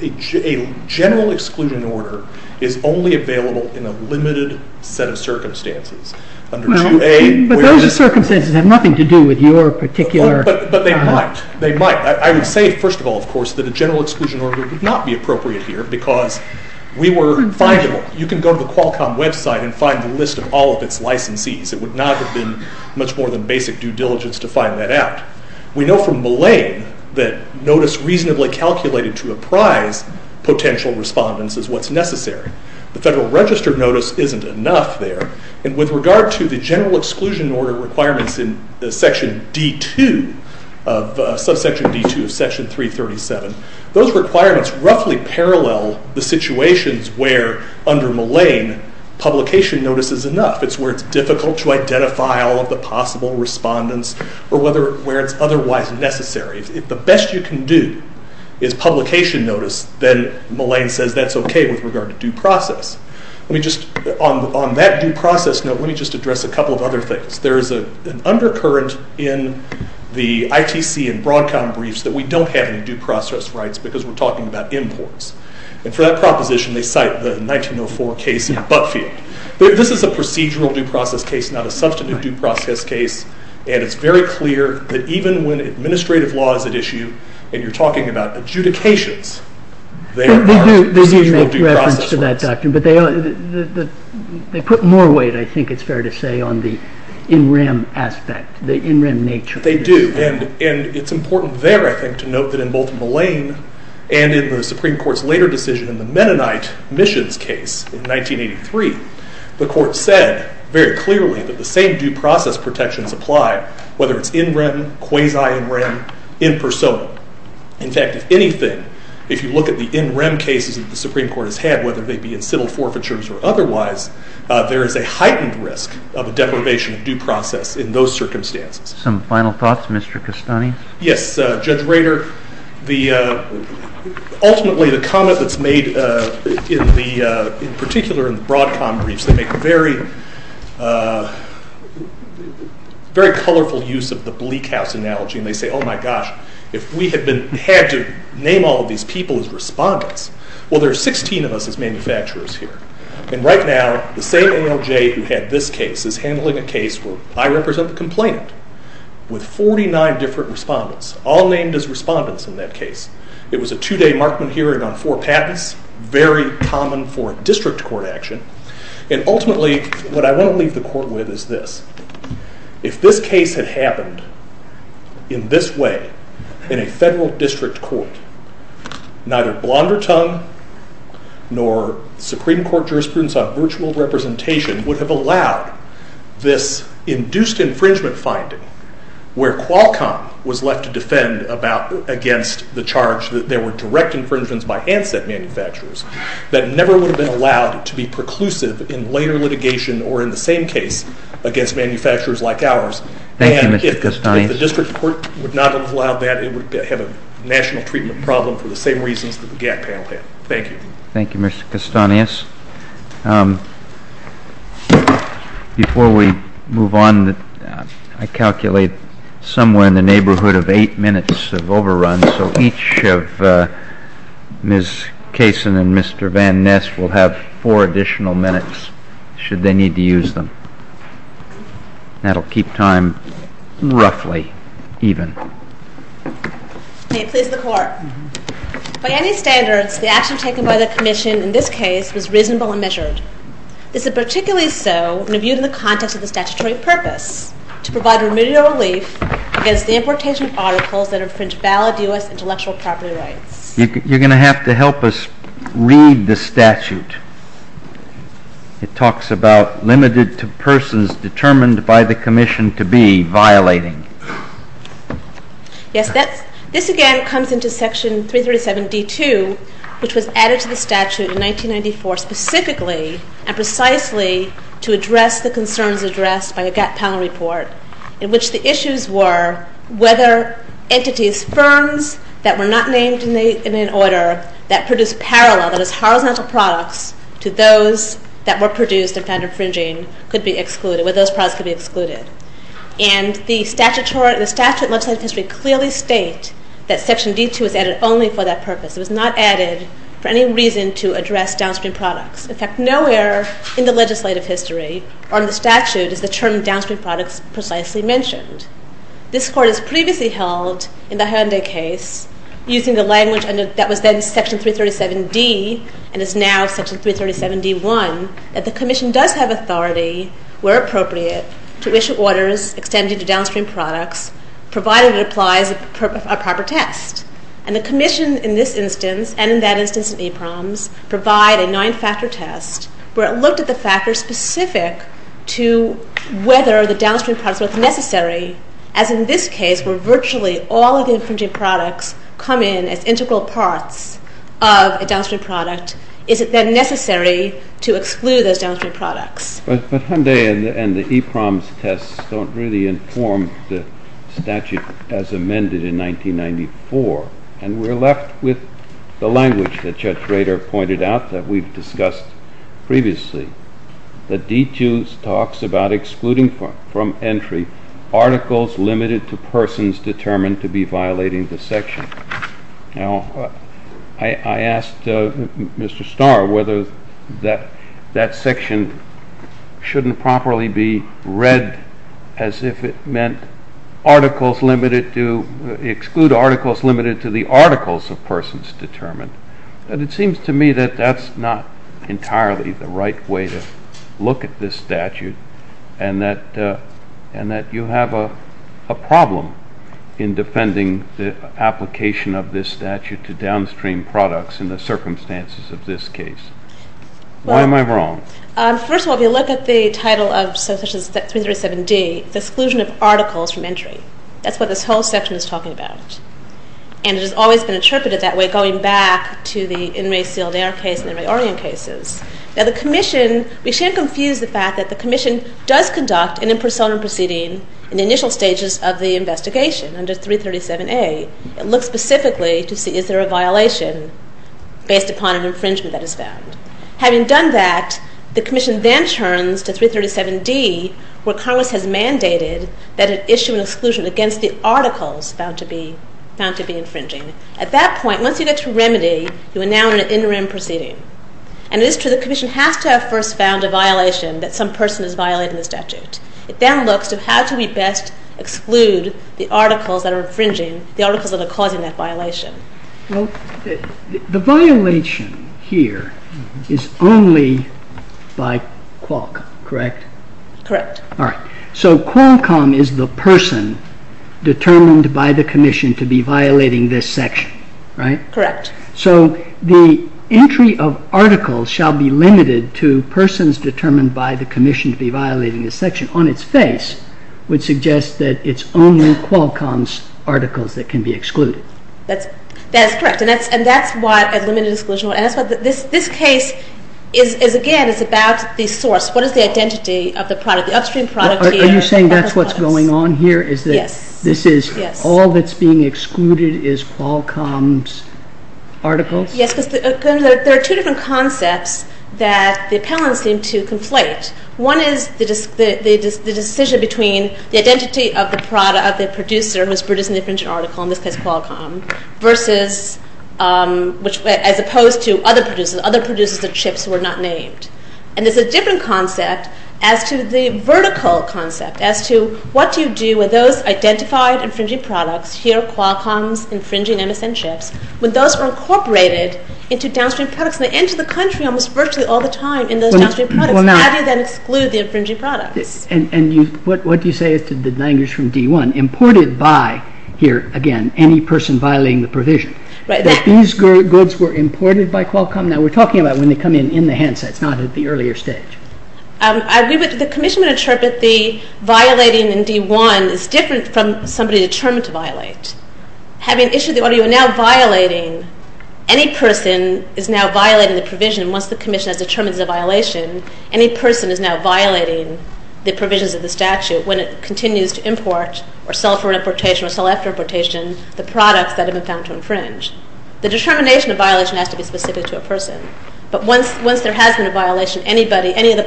a general exclusion order is only available in a limited set of circumstances. But those circumstances have nothing to do with your particular... But they might. They might. I would say, first of all, of course, that a general exclusion order would not be appropriate here because we were... You can go to the Qualcomm website and find the list of all of its licensees. It would not have been much more than basic due diligence to find that out. We know from Malay that notice reasonably calculated to apprise potential respondents is what's necessary. The Federal Register notice isn't enough there. And with regard to the general exclusion order requirements in Section D2 of Subsection D2 of Section 337, those requirements roughly parallel the situations where under Malay publication notice is enough. It's where it's difficult to identify all of the possible respondents or where it's otherwise necessary. If the best you can do is publication notice, then Malay says that's okay with regard to due process. Let me just... On that due process note, let me just address a couple of other things. There's an undercurrent in the ITC and Broadcom briefs that we don't have any due process rights because we're talking about imports. And for that proposition, they cite the 1904 case in Buckfield. This is a procedural due process case, not a substantive due process case. And it's very clear that even when administrative law is at issue and you're talking about adjudications, there are... They do make reference to that, Doctor, but they put more weight, I think it's fair to say, on the in rem aspect. The in rem nature. They do. And it's important there, I think, to note that in both Malay and in the Supreme Court's later decision in the Mennonite missions case in 1983, the Court said very clearly that the same due process protections apply whether it's in rem, quasi in rem, in persona. In fact, if anything, if you look at the in rem cases that the Supreme Court has had, whether they be in civil forfeitures or otherwise, there is a heightened risk of a deprivation of due process in those circumstances. Some final thoughts, Mr. Castani? Yes. Judge Rader, the... Ultimately, the comment that's made in the... In particular, in the Broadcom breach, they make very... very colorful use of the Bleak House analogy, and they say, oh, my gosh, if we had been... had to name all of these people as respondents, well, there are 16 of us as manufacturers here. And right now, the same NOJ who had this case is handling a case where I wrote and I represent the complainant with 49 different respondents, all named as respondents in that case. It was a two-day Markman hearing on four patents, very common for district court action. And ultimately, what I want to leave the court with is this. If this case had happened in this way in a federal district court, neither Blondertongue nor Supreme Court jurisprudence on virtual representation would have allowed this inducing where Qualcomm was left to defend against the charge that they were directing, for instance, by Antithet manufacturers that never would have been allowed to be preclusive in later litigation or in the same case against manufacturers like ours. And if the district court would not have allowed that, it would have a national treatment problem for the same reason that the GATT panel had. Thank you. Thank you, Mr. Castanez. Before we move on to the next item, I calculate somewhere in the neighborhood of eight minutes of overrun, so each of Ms. Cason and Mr. Van Nist will have four additional minutes should they need to use them. That will keep time roughly even. May it please the court. By any standard, the action taken by the commission in this case was reasonable and measured. Is it particularly so when viewed in the context of the statutory purpose to provide remedial relief against the importation of articles that infringe valid U.S. intellectual property rights? You're going to have to help us read the statute. It talks about limited persons determined by the commission to be violating. Yes, this again comes into Section 337D2 which was added to the statute in 1994 specifically and precisely to address the concerns addressed by the Gap Panel Report in which the issues were whether entities, firms that were not named in an order that produced parallel products to those that were produced and found infringing could be excluded. And the statute clearly states that Section D2 was added only for that purpose. It was not added for any reason to address downstream products. In fact, nowhere in the legislative history or in the statute is the term downstream products precisely mentioned. This Court has previously held in the Hando case using the language that was in Section 337D and is now Section 337D1 that the Commission does have authority where appropriate to issue orders extended to downstream products provided it applies a proper test. And the Commission in this instance and in that instance in APROMS provide a nine-factor test where it looked at the factors specific to whether the downstream product was necessary, as in this case where virtually all of the infringement products come in as integral parts of a downstream product. Is it then necessary to exclude those downstream products? But Hyundai and the APROMS tests don't really inform the statute as amended in 1994, and we're left with the language that Judge Starr in his entry, articles limited to persons determined to be violating the section. Now, I asked Mr. Starr whether that section shouldn't properly be read as if it meant articles limited to the articles of persons determined. And it seems to me that that's not entirely the right way to look at this statute and that you have a problem in defending the application of this statute to downstream products in the circumstances of this case. Why am I wrong? First of all, if you look at the title of Section 307D, the exclusion of articles from entry, that's what this whole section is talking about. And it says that the commission does conduct an in person proceeding in the initial stages of the investigation under 337A. It looks specifically to see if there are violations based upon infringement that is found. Having done that, the commission then turns to 337D where Congress has mandated that an exclusion against the articles found to be infringing. At that point, once you get to remedy, you are now in an interim proceeding. And the commission has to have first found a violation that some person has violated in the statute. It then looks at how to best exclude the articles that are infringing the articles that are causing that violation. The violation here is only by Qualcomm, correct? Correct. All right. So Qualcomm is the person determined by the commission to be violating this section, right? Correct. So the entry of articles shall be limited to persons determined by the commission to be violating this section. This case, again, is about the source. What is the identity of the product? Are you saying that's what's going on here? Yes. All that's being excluded is Qualcomm's articles? Yes. There are two different concepts that the appellants seem to conflate. One is the decision between the appellant and commission. the decision between the commission and the appellant. And this is a different concept as to the vertical concept, as to what to do with those identified infringing products, when those are incorporated into downstream products. They enter the country almost all the time. What do you say to the language from D1? Imported by any person violating the provision. These were imported by Qualcomm? The commission said violating D1 is a violation the statute. Any person is now violating the provision once the commission has determined the violation. The determination has to be specific to a person. Once there has been a violation, any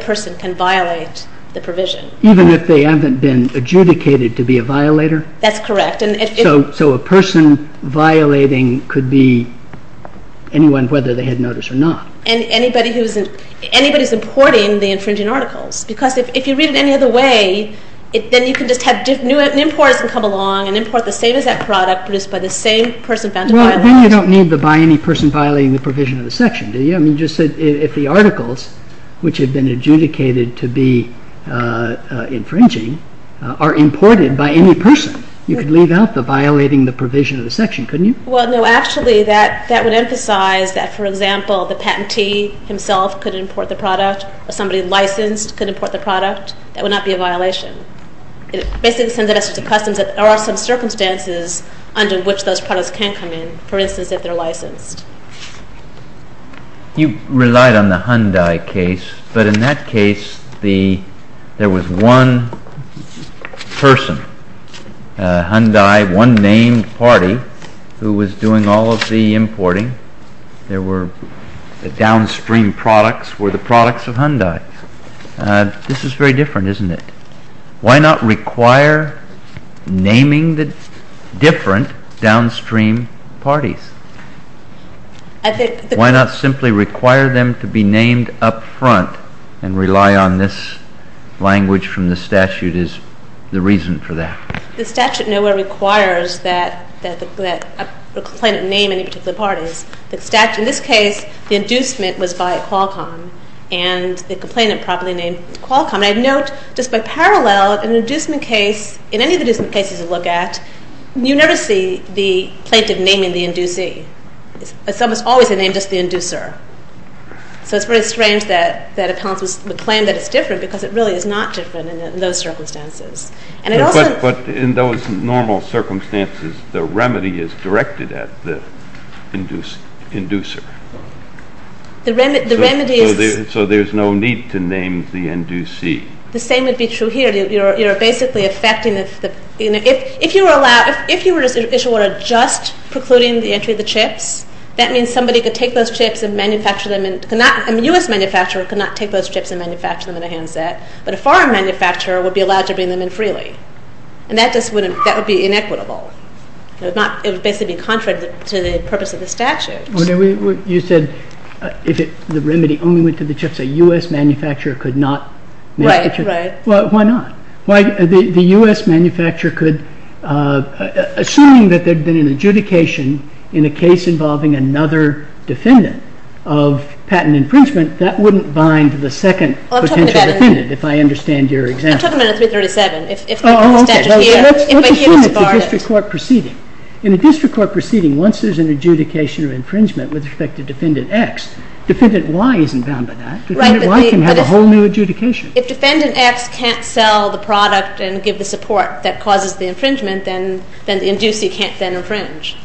person can violate the provision. Even if they haven't been adjudicated to be a violator? That's correct. So a person violating could be anyone whether they had notice or not. Anybody importing the infringing articles. If you read it any other way, you can have new imports coming along. You don't need to violate the provision. If the articles which have been adjudicated to be infringing are imported by any person, you can leave out violating the provision. That would emphasize that the patentee could import the product. If somebody licensed could import the product, that would not be a violation. There are circumstances under which those products can come in. For instance, if they're licensed. You relied on the Hyundai case, but in that case, there was one person, Hyundai, one named party, who was doing all of the importing. The downstream products were the products of Hyundai. This is very different, isn't it? Why not require naming the different downstream parties? Why not simply require them to be named up front and rely on this language from the statute is the reason for that? The statute nowhere requires that. In this case, the inducement was by Qualcomm. I note, just by parallel, in any inducement case you can name the inducer. It is strange that it is different because it is not different in those circumstances. In normal circumstances, the remedy is directed at the inducer. There is no need to name the inducee. The same would be true for manufacturing chips. A foreign manufacturer would be allowed to bring them in freely. That would be inequitable. It would be contrary to the purpose of the statute. The remedy only went to the chips. Why not? The U.S. manufacturer could assume that there was an adjudication in a case involving another defendant of patent infringement. That would not bind the second potential defendant. In a district court proceeding, once there is an adjudication of infringement with respect to defendant X, there is a new adjudication. If defendant X can't sell the product and give the support that causes the infringement, then the inducer can't infringe.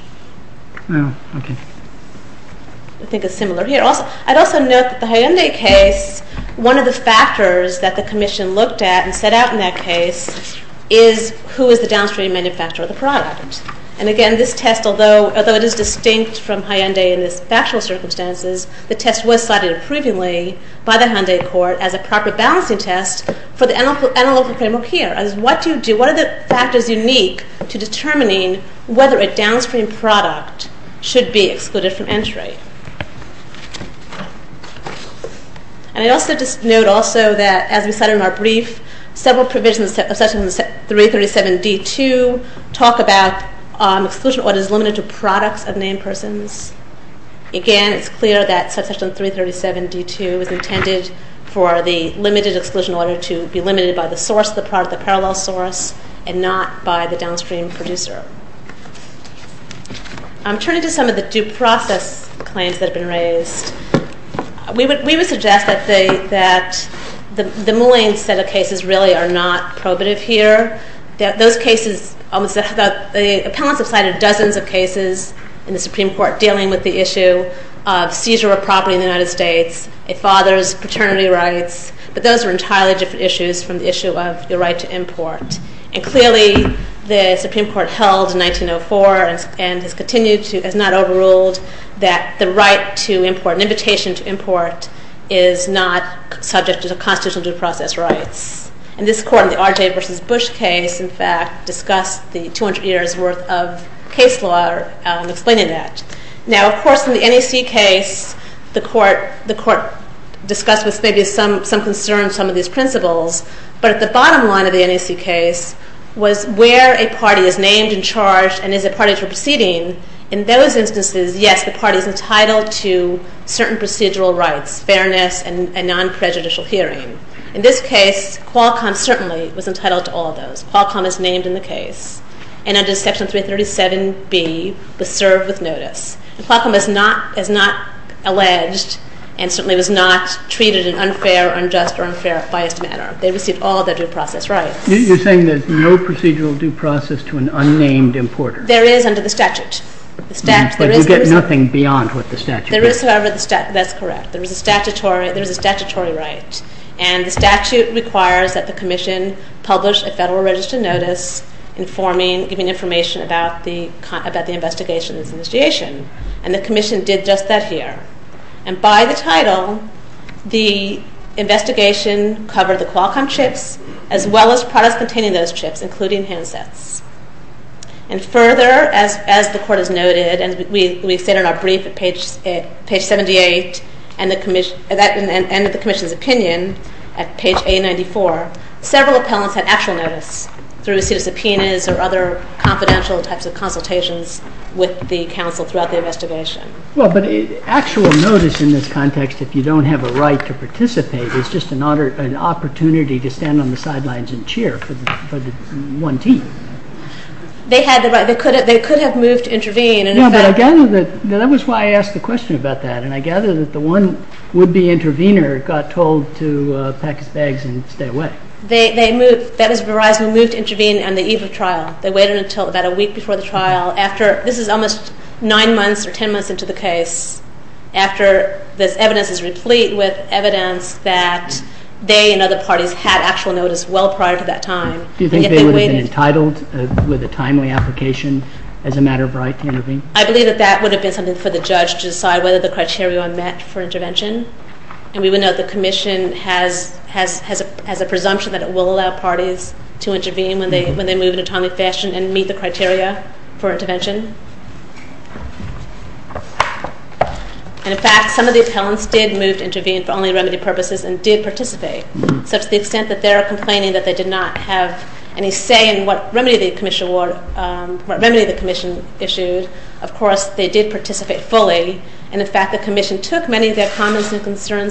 In the case, one of the test was provided as a proper balancing test. What are the factors unique to determining whether a downstream product should be excluded from entry? I also note that several provisions talk about exclusion by the source and not by the downstream producer. Turning to some of the process claims that have been raised, we would suggest that the cases really are not probative here. The appellant decided dozens of cases in the Supreme Court dealing with the issue of seizure of property in the United States, a father's paternity rights, but those are entirely different issues from the right to import. Clearly, the Supreme Court held in 1904 that the right to import is not subject to the constitutional due process rights. This court discussed the 200 years worth of case investigation and the commission did just that here. By the title, the investigation covered the Qualcomm chips as well as products containing those chips, including handsets. Further, as the court noted, we stated in our brief at page 78 and at the commission's opinion at page A94, several appellants had actual notice through subpoenas or other confidential types of consultations with the counsel throughout the investigation. The actual notice in this context, if you don't have a right to intervene, no right to intervene. That was why I asked the question about that. I gather the one would-be intervener got told to pack his bags and stay away. They waited until about a week before the trial. This is almost nine months or ten months into the case. The evidence was They had actual notice well prior to that time. I believe that would have been something for the judge to decide whether the criteria were met for intervention. The commission has a presumption that it will allow parties to intervene when they move in a timely manner. That was the criteria for intervention. In fact, some of the appellants did participate. They did not have any say in what the commission issues. They did participate fully. The commission took their position. Some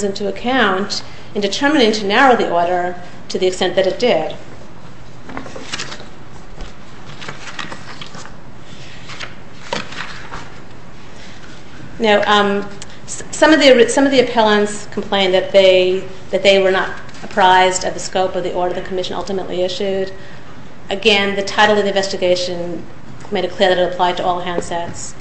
of the appellants complained that they were not surprised at the scope of the ultimately issued. Again, the title of the investigation made it clear that it applied to all handsets.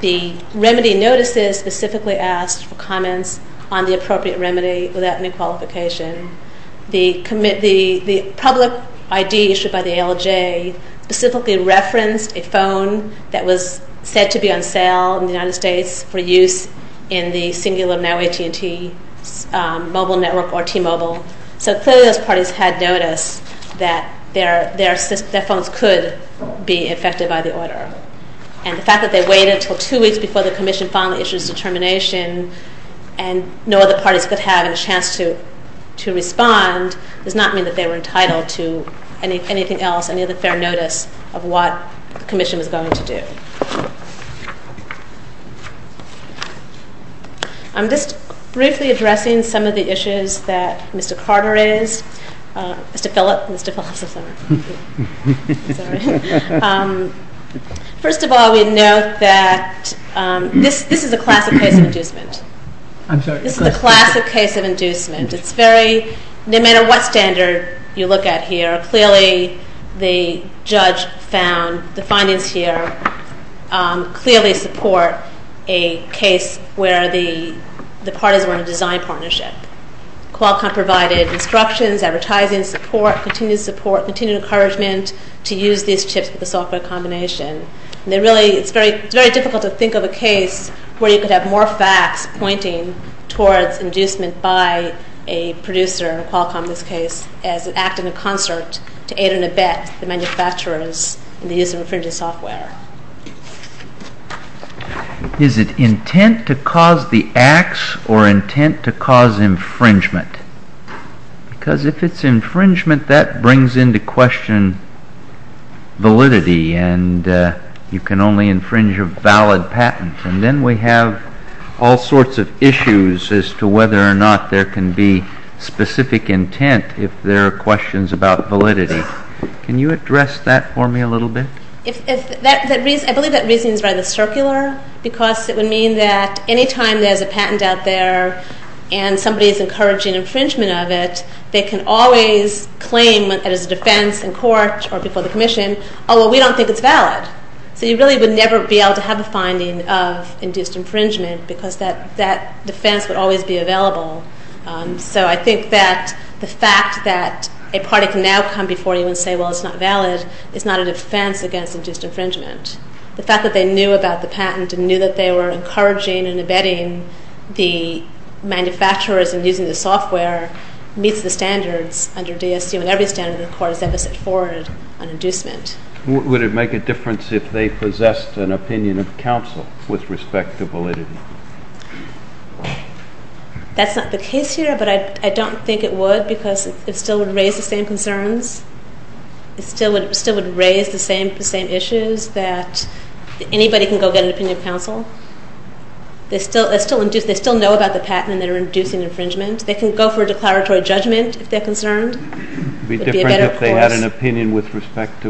The remedy notices specifically asked for comments on the appropriate remedy. The public ID issued by the ALJ specifically referenced a phone that was said to be on sale in the United States for use in the mobile network. Clearly, those parties had noticed that their phones could be affected by the order. The fact that no other parties could have a chance to respond does not mean that they were entitled to anything else, any other fair notice of what the commission was going to do. I'm just briefly addressing some of the issues that Mr. Carter raised. First of all, we note that this is a classic case of inducement. No matter what standard you look at here, clearly the judge found the findings here clearly support a case where the parties were in a design partnership. Qualcomm provided instructions, advertising support, continued support, continued encouragement to use these chips for the software combination. It's very difficult to think of a case where you could have more facts pointing towards inducement by a producer as an act in the concert to aid the manufacturers in the use of infringing software. Is it intent to use act to know. I don't know. I don't know. I don't know. I don't know. I don't know. There successful design. That is not a finding. We don't think it's valid. You would never have a because the defense would always be available. I think the fact that it is not valid is not a defense against infringement. The fact that they knew about the patent and knew that they were embedding the software meets the standards. It would make a difference if they possessed an opinion of counsel with respect to validity. That's not the case here, but I don't think it would because it still would raise the same concerns. It still would raise the same issues that anybody can go get an opinion of counsel. They still know about the patent and are inducing infringement. They can go for an opinion counsel with respect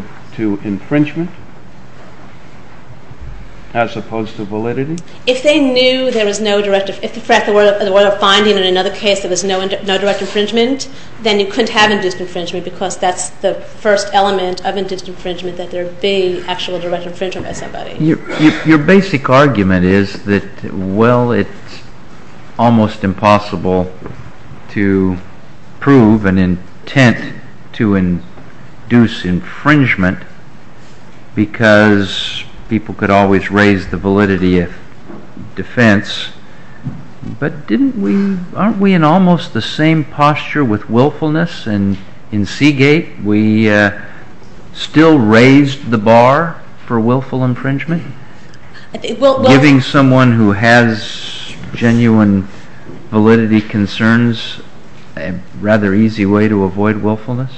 to validity. If they knew that there was no direct infringement, then you couldn't have infringement because that's the first element of infringement. Your basic argument is that well, it's almost impossible to prove an intent to induce infringement because people could always raise the validity of defense, but didn't we aren't we in almost the same posture with willfulness and in Seagate we still raised the bar for willful infringement? Giving someone who has genuine validity concerns a rather easy way to avoid willfulness?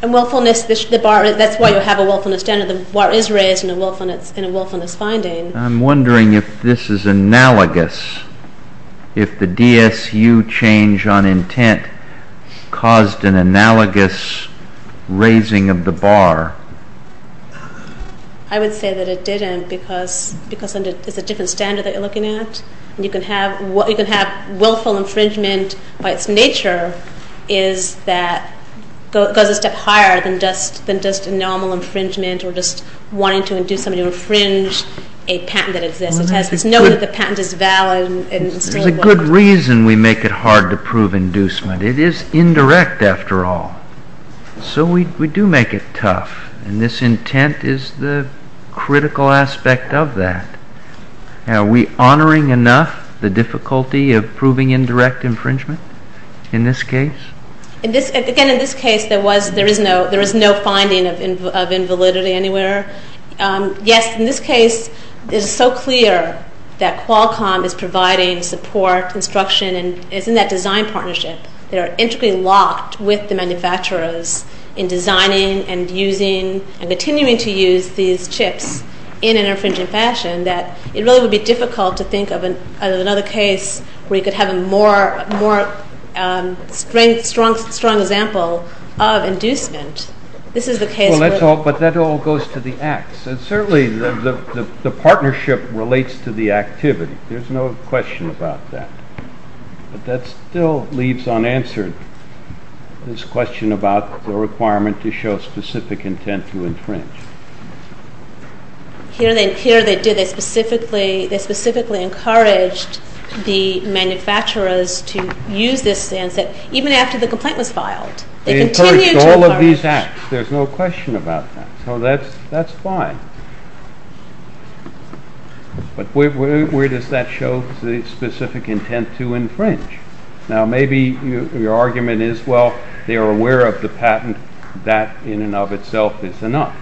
I'm wondering if this is analogous, if the DSU change on intent caused an analogous raising of the bar? I would say that it didn't because it's a different standard that you're looking at. You can have infringement by its nature is that it goes a step higher than just normal infringement or just wanting to induce someone to infringe on them. There's a good reason we make it hard to prove inducement. It is indirect after all. So we do make it tough. And this intent is the critical aspect of that. Are we honoring enough the difficulty of proving indirect infringement in this case? Again, in this case, there is no finding of invalidity anywhere. Yet, in this case, it is so clear that Qualcomm is providing support, instruction, and it's in that design partnership. They're interlocked with the manufacturers in designing and using and continuing to use these chips in an infringing fashion, that it would be difficult to think of another case where you could have a more strong example of inducement. This is a case that certainly the partnership relates to the activity. There's no question about that. But that still leads unanswered this question about the requirement to show specific intent to infringe. They specifically encouraged the manufacturers to use this even after the file. There's no question about that. That's fine. But where does that show the specific intent to infringe? Maybe your argument is well, they are aware of the patent. That in and of itself is enough.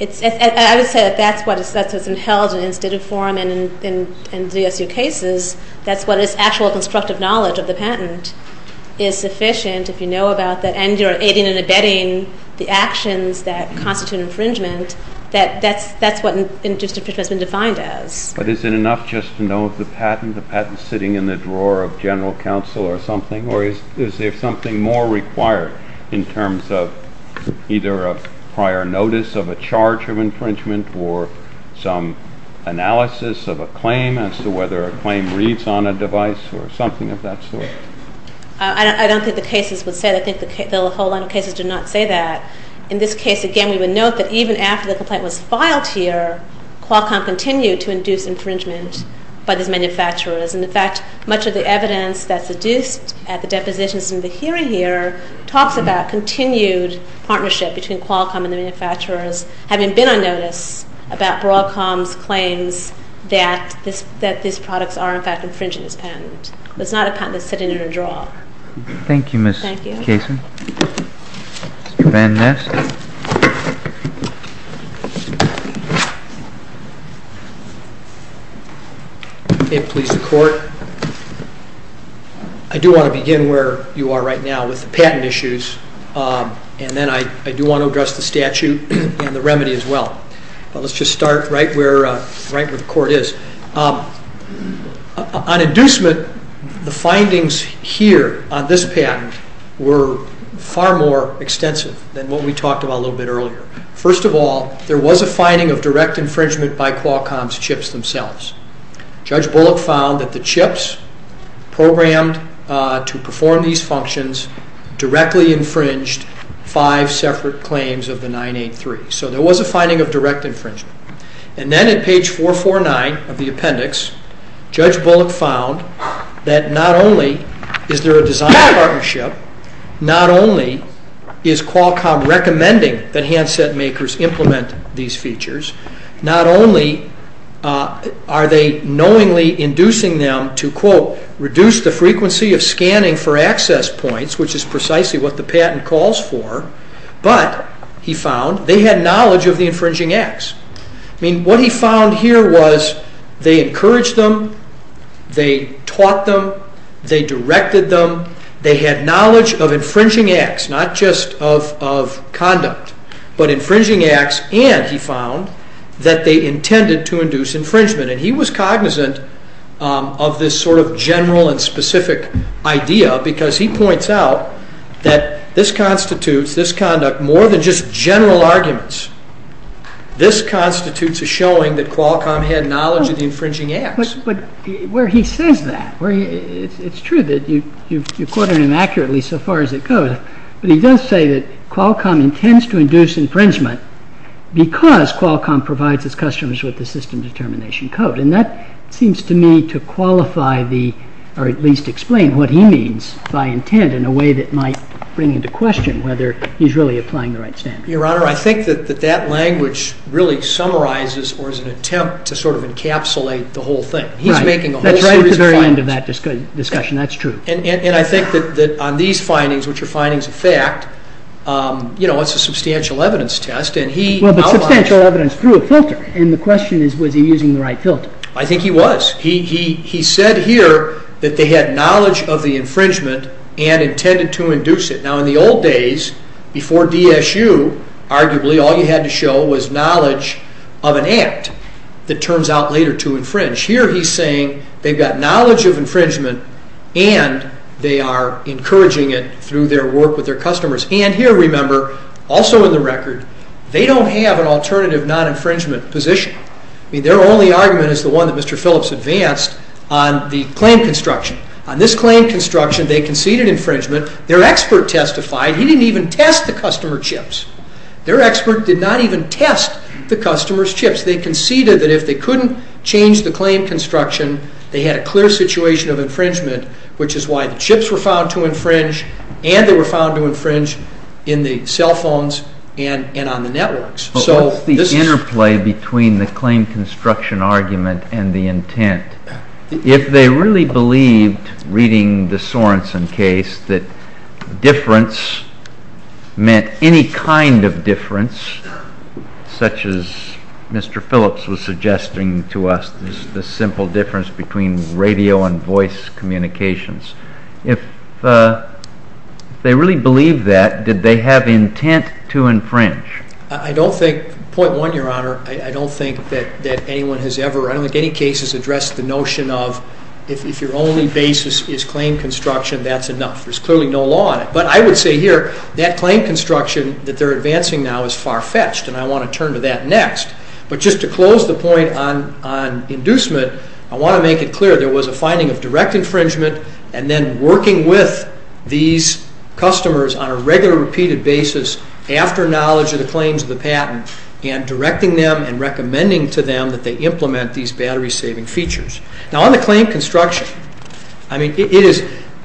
I would say if that's what is held in the form, that's what the actual knowledge of the patent is sufficient. If you know about the actions that constitute infringement, that's what that is. I don't think the case has been said. I think a whole lot of cases did not say that. In this case, again, we would note that even after the complaint was filed here, CLAWCOMM continued to induce infringement by the manufacturers. In fact, much of the evidence that's deduced in the hearing here talks about continued partnership between CLAWCOMM having been on notice about CLAWCOMM saying that these products are infringing the patent. It's not a patent that's sitting under the table. I do want to begin where you are right now with the patent issues and then I do want to address the statute and the remedy as well. Let's start right where the court is. On inducement, the findings here on this patent were far more extensive than what we talked about earlier. First of all, there was a finding of direct infringement by CLAWCOMM themselves. Judge Bullock found that the chips programmed to perform these functions directly infringed five separate claims of the 983. There was a finding of direct infringement. On page 449, Judge Bullock found that not only is there a design partnership, not only is CLAWCOMM recommending that handset makers implement these features, not only are they knowingly inducing them to reduce the frequency of scanning for access points, which is precisely what the patent calls for, but he found they had knowledge of the infringing acts. What he found here was they encouraged them, taught them, directed them, they had knowledge of infringing acts, not just of conduct, but infringing acts, and he found that they intended to induce infringement. He was cognizant of this sort of general and specific idea because he points out that this was a substantial evidence test. The question is was he using the right filter? I think he was. He said here that they had knowledge of the infringement and intended to induce it. In the old days before DSU, all you had to show was knowledge of an act. Here he's saying they have knowledge of infringement and they are encouraging it through their work with their customers. They don't have an alternative non-infringement position. Their only argument is the one Mr. Phillips advanced on the claim construction argument. They conceded that if they couldn't change the claim construction, they had a clear situation of infringement which is why chips were found to infringe and they were found to infringe in the cell phones and on the networks. The interplay between the claim construction argument and the intent, if they really believed reading the Sorensen case that difference meant any kind of difference such as Mr. Phillips was suggesting to us, the simple difference between radio and voice communications, if they really believed that, did they have intent to infringe? I don't think, point one, your honor, I don't think anyone has ever addressed the notion of if your only basis is claim construction, that's enough. There's clearly no law on it. But I would say here that claim construction that they're advancing now is far-fetched and I want to commend them for making those claims and recommending them to implement the battery saving features. On the claim construction,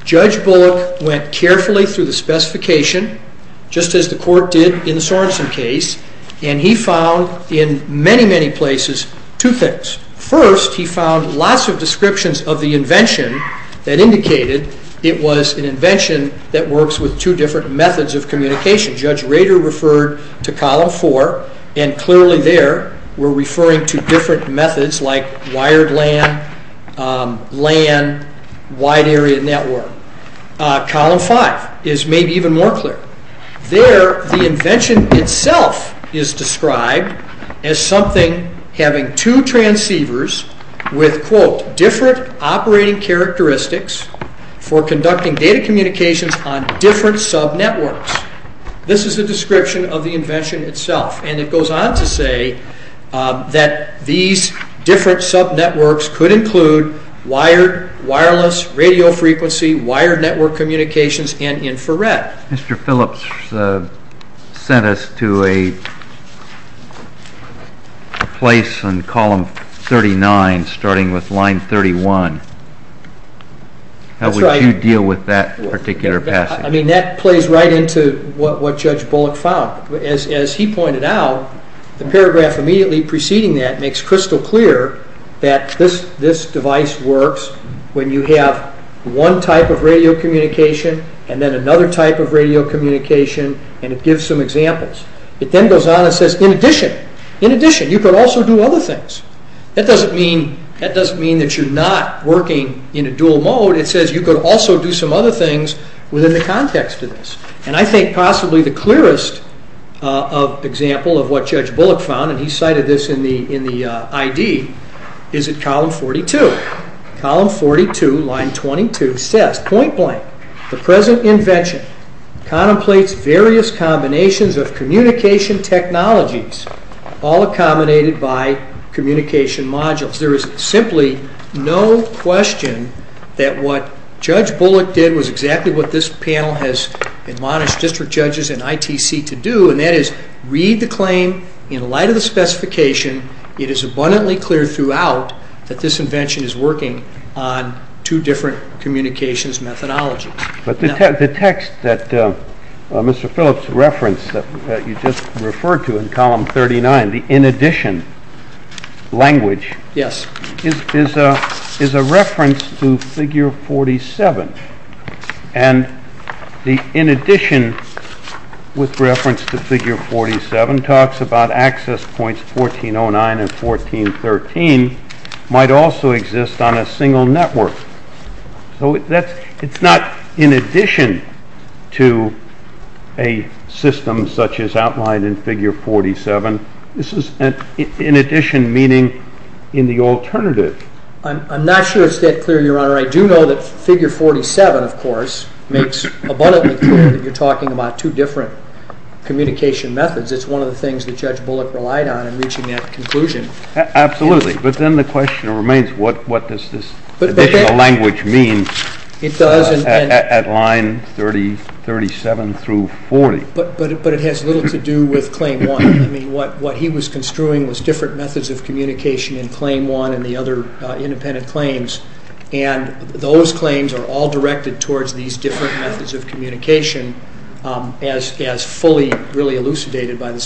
judge Bullock went carefully through the specification just as the court did in the Sorensen case and he found in many places two different methods of communication. Judge Rader referred to column four and clearly there we're referring to different methods like wired LAN, LAN, wide area Column five is made even more clear. There the invention itself is described as something having two transceivers with, quote, two different operating characteristics for conducting data communications on different subnetworks. This is the description of the invention itself. And it goes on to say that these different subnetworks could include wired, wireless, radio frequency, wired network communications and infrared. Mr. Phillips sent us to a place on column 39 starting with line 31. How would you deal with that particular passage? That plays right into what Judge Bullock found. As he pointed out, the paragraph preceding that makes crystal clear that this device works when you have one type of radio communication and then another type of radio communication and it gives some examples. It then goes on and says in addition, you can also do other things. That doesn't mean that you're not working in a dual mode. It says you can also do some other things within the context of this. I think possibly the clearest example of what Judge Bullock found, and he cited this in the ID, is column 42. Line 22 says, point blank, the present invention contemplates various combinations of communication technologies all accommodated by communication modules. There is simply no question that what Judge Bullock did was exactly what this panel has admonished district judges and ITC to do, and that is read the claim in light of the specification. It is abundantly clear throughout that this invention is working on two different communications methodologies. The text that Mr. Phillips referenced that you just referred to in column 39, the in addition language, is a reference to figure 47. And the in addition to figure 47 talks about access points 1409 and 1413 might also exist on a single network. So it is not just a reference to figure 47, but in addition to a system such as outlined in figure 47, this is in addition meaning in the alternative. I'm not sure it is clear, Your Honor. I do know that figure 47, of course, makes abundantly clear that you are talking about two different communication methods. It is one of the things that Judge Bullock relied on in reaching that conclusion. Absolutely. But then the question remains, what does this additional language mean at line 37 through 40? But it has little to do with claim 1. What he was construing was different methods of communication in claim 1 and the other independent claims. And those claims are all directed towards these different methods of communication as fully really elucidated by this.